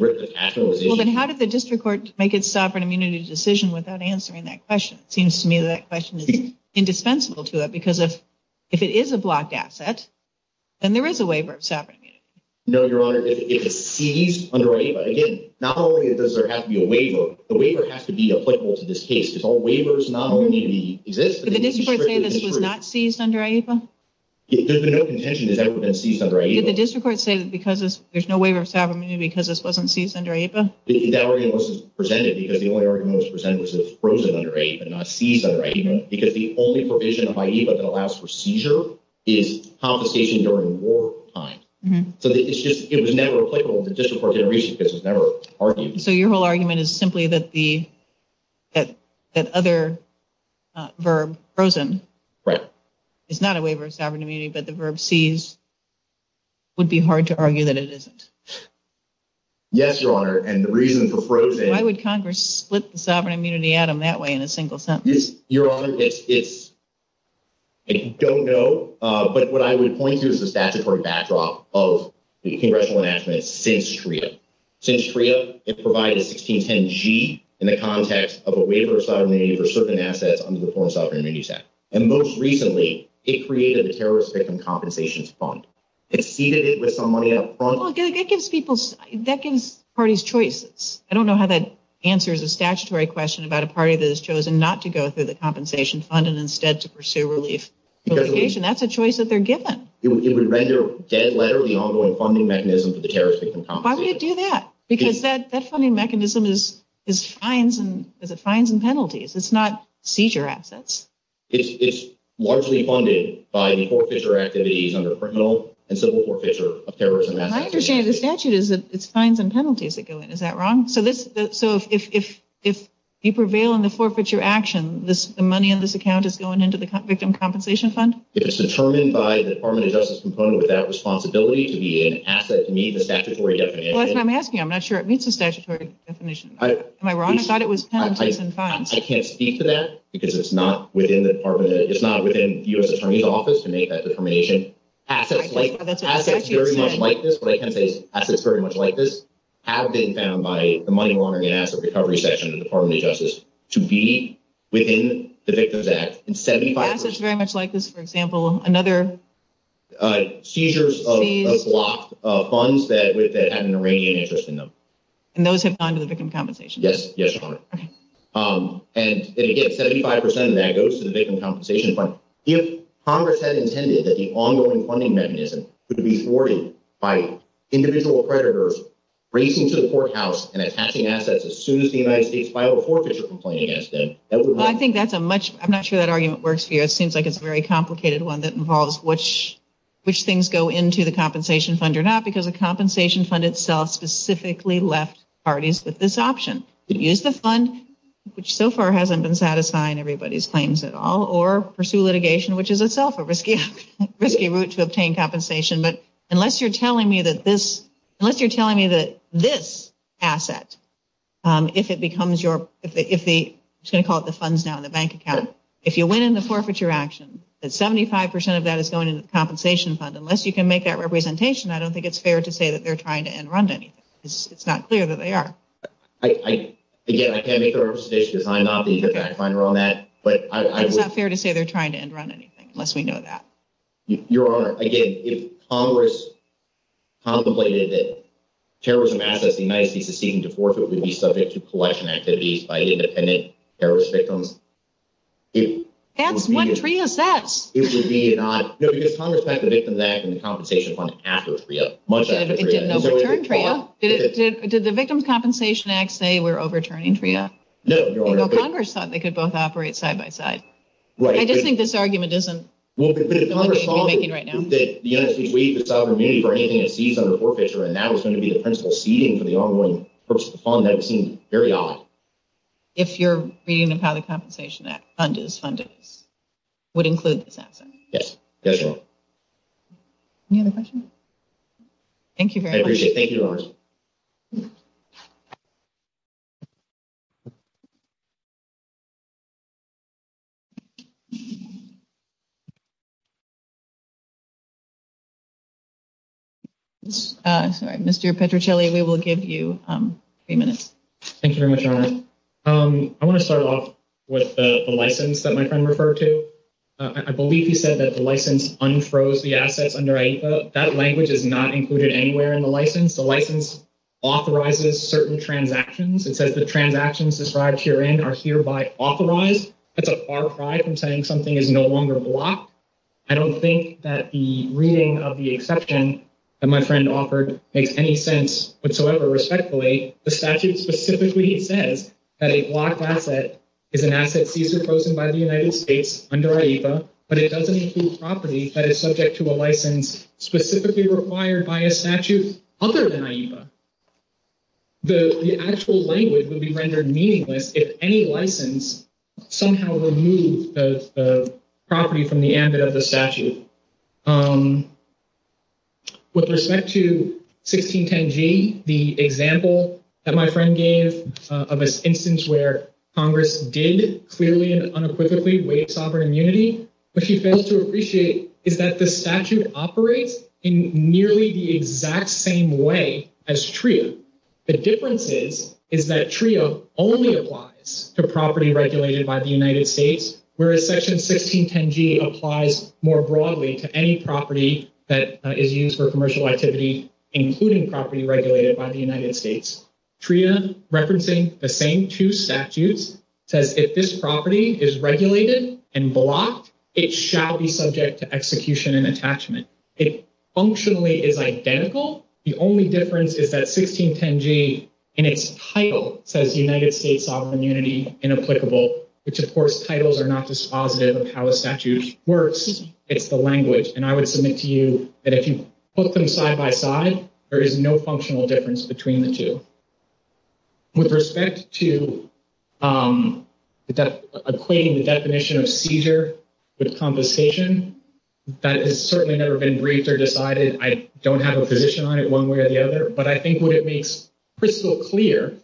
writ of attachment was issued – Well, then how did the district court make its sovereign immunity decision without answering that question? It seems to me that that question is indispensable to it because if it is a blocked asset, then there is a waiver of sovereign immunity. No, Your Honor, it's seized under IEA. Again, not only does there have to be a waiver, the waiver has to be applicable to this case. If a waiver is not going to be – Did the district court say that it was not seized under IEA? There's been no contention that that would have been seized under IEA. Did the district court say that because there's no waiver of sovereign immunity because this wasn't seized under IEA? That argument wasn't presented because the only argument that was presented was that it was frozen under IEA and not seized under IEA because the only provision of IEA that allows for seizure is compensation during wartime. So it was never applicable to the district court's argument because it was never argued. So your whole argument is simply that the other verb, frozen, is not a waiver of sovereign immunity, but the verb seized would be hard to argue that it isn't. Yes, Your Honor, and the reason for frozen – Why would Congress split sovereign immunity out of that way in a single sentence? Your Honor, I don't know, but what I would point to is the statutory backdrop of the congressional amendment since TRIA. Since TRIA, it provided 1610G in the context of a waiver of sovereign immunity for certain assets under the Foreign Sovereign Immunity Act. And most recently, it created a terrorist victim compensation fund. It ceded it with some money up front. Well, it gives people – that gives parties choices. I don't know how that answers a statutory question about a party that has chosen not to go through the compensation fund and instead to pursue relief. That's a choice that they're given. It would render dead letter the ongoing funding mechanism for the terrorist victim compensation. Why would it do that? Because that funding mechanism is fines and penalties. It's not seizure assets. It's largely funded by the forfeiture activities under the criminal and civil forfeiture of terrorism act. My understanding of the statute is that it's fines and penalties that go in. Is that wrong? So if you prevail in the forfeiture action, the money in this account is going into the victim compensation fund? It is determined by the Department of Justice component without responsibility to be an asset to meet the statutory definition. That's what I'm asking. I'm not sure it meets the statutory definition. Am I wrong? I thought it was penalties and fines. I can't speak to that because it's not within the Department of – it's not within U.S. Attorney's Office to make that determination. Assets very much like this have been found by the money laundering and asset recovery section of the Department of Justice to be within the Victims Act. Assets very much like this, for example, another – Seizures of funds that have an Iranian interest in them. And those have gone to the victim compensation fund? Yes. And again, 75 percent of that goes to the victim compensation fund. If Congress had intended that the ongoing funding mechanism would be thwarted by individual predators racing to the courthouse and attacking assets as soon as the United States filed a forfeiture complaint against them, that would have – Well, I think that's a much – I'm not sure that argument works here. It seems like it's a very complicated one that involves which things go into the compensation fund or not because the compensation fund itself specifically left parties with this option. Use the fund, which so far hasn't been satisfying everybody's claims at all, or pursue litigation, which is itself a risky route to obtain compensation. But unless you're telling me that this – unless you're telling me that this asset, if it becomes your – if the – I'm just going to call it the funds now, the bank account. If you win in the forfeiture action, that 75 percent of that is going to the compensation fund. Unless you can make that representation, I don't think it's fair to say that they're trying to end run anything. It's not clear that they are. I – again, I can't make that representation because I'm not the exact finder on that, but I – It's not fair to say they're trying to end run anything, unless we know that. Your Honor, again, if Congress contemplated that terrorism assets in the United States receiving the forfeiture would be subject to collection activities by independent terrorist victims – That's what TRIA says. It would be not – no, because Congress passed the Victims Act and the Compensation Fund after TRIA, much after TRIA. Did the Victims Compensation Act say we're overturning TRIA? No, Your Honor. Well, Congress thought they could both operate side by side. Right. I just think this argument isn't something we're making right now. If you're reading about a compensation act, funded, it would include this asset. Yes, it does, Your Honor. Any other questions? Thank you very much. I appreciate it. Thank you, Your Honor. Sorry, Mr. Petruccilli, we will give you three minutes. Thank you very much, Your Honor. I want to start off with the license that my friend referred to. I believe he said that the license unfroze the assets under AICA. That language is not included anywhere in the license. The license authorizes certain transactions. It says the transactions described herein are hereby authorized. That's a far cry from saying something is no longer blocked. I don't think that the reading of the exception that my friend offered makes any sense whatsoever. Respectfully, the statute specifically says that a blocked asset is an asset fees imposed by the United States under AICA, but it doesn't include property that is subject to a license specifically required by a statute other than AICA. The actual language would be rendered meaningless if any license somehow removed the property from the amendment of the statute. With respect to 1610G, the example that my friend gave of an instance where Congress did clearly and unequivocally waive sovereign immunity, what he fails to appreciate is that the statute operates in nearly the exact same way as TRIA. The difference is is that TRIA only applies to property regulated by the United States, whereas Section 1610G applies more broadly to any property that is used for commercial activity, including property regulated by the United States. TRIA, referencing the same two statutes, says if this property is regulated and blocked, it shall be subject to execution and attachment. It functionally is identical. The only difference is that 1610G in its title says United States sovereign immunity inapplicable, which, of course, titles are not dispositive of how a statute works. It's the language. And I would submit to you that if you put them side by side, there is no functional difference between the two. With respect to equating the definition of seizure with compensation, that has certainly never been raised or decided. I don't have a position on it one way or the other. But I think what it makes crystal clear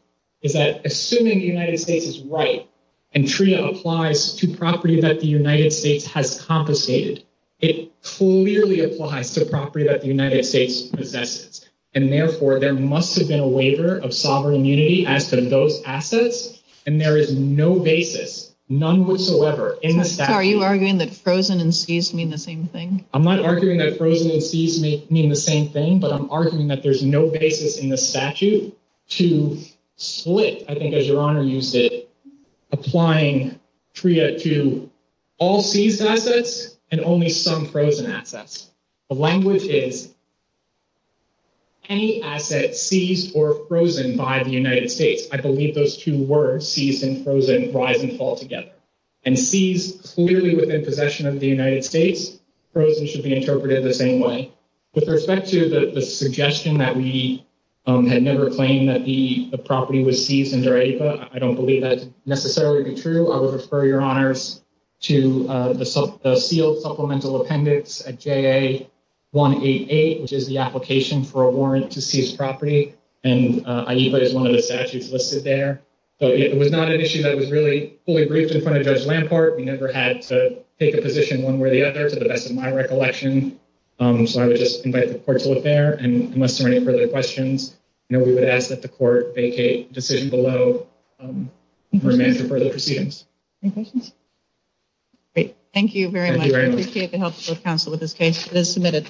is that assuming the United States is right and TRIA applies to property that the United States has compensated, it clearly applies to property that the United States compensates. And, therefore, there must have been a waiver of sovereign immunity as to those assets, and there is no basis, none whatsoever, in the statute. Are you arguing that frozen and seized mean the same thing? I'm not arguing that frozen and seized mean the same thing, but I'm arguing that there's no basis in the statute to split, I think as Your Honor used it, applying TRIA to all seized assets and only some frozen assets. The language is any asset seized or frozen by the United States. I believe those two words, seized and frozen, rise and fall together. And seized clearly within possession of the United States, frozen should be interpreted the same way. With respect to the suggestion that we had never claimed that the property was seized under AIVA, I don't believe that's necessarily true. I will refer Your Honors to the SEAL supplemental appendix at JA188, which is the application for a warrant to seize property. And AIVA is one of the statutes listed there. So it was not an issue that was really fully briefed in front of Judge Lamport. We never had to take a position one way or the other, to the best of my recollection. So I would just invite the court to look there. And unless there are any further questions, we would ask that the court vacate the decision below for further proceedings. Any questions? Great. Thank you very much. Thank you very much. I appreciate the help of the counsel with this case. It is submitted.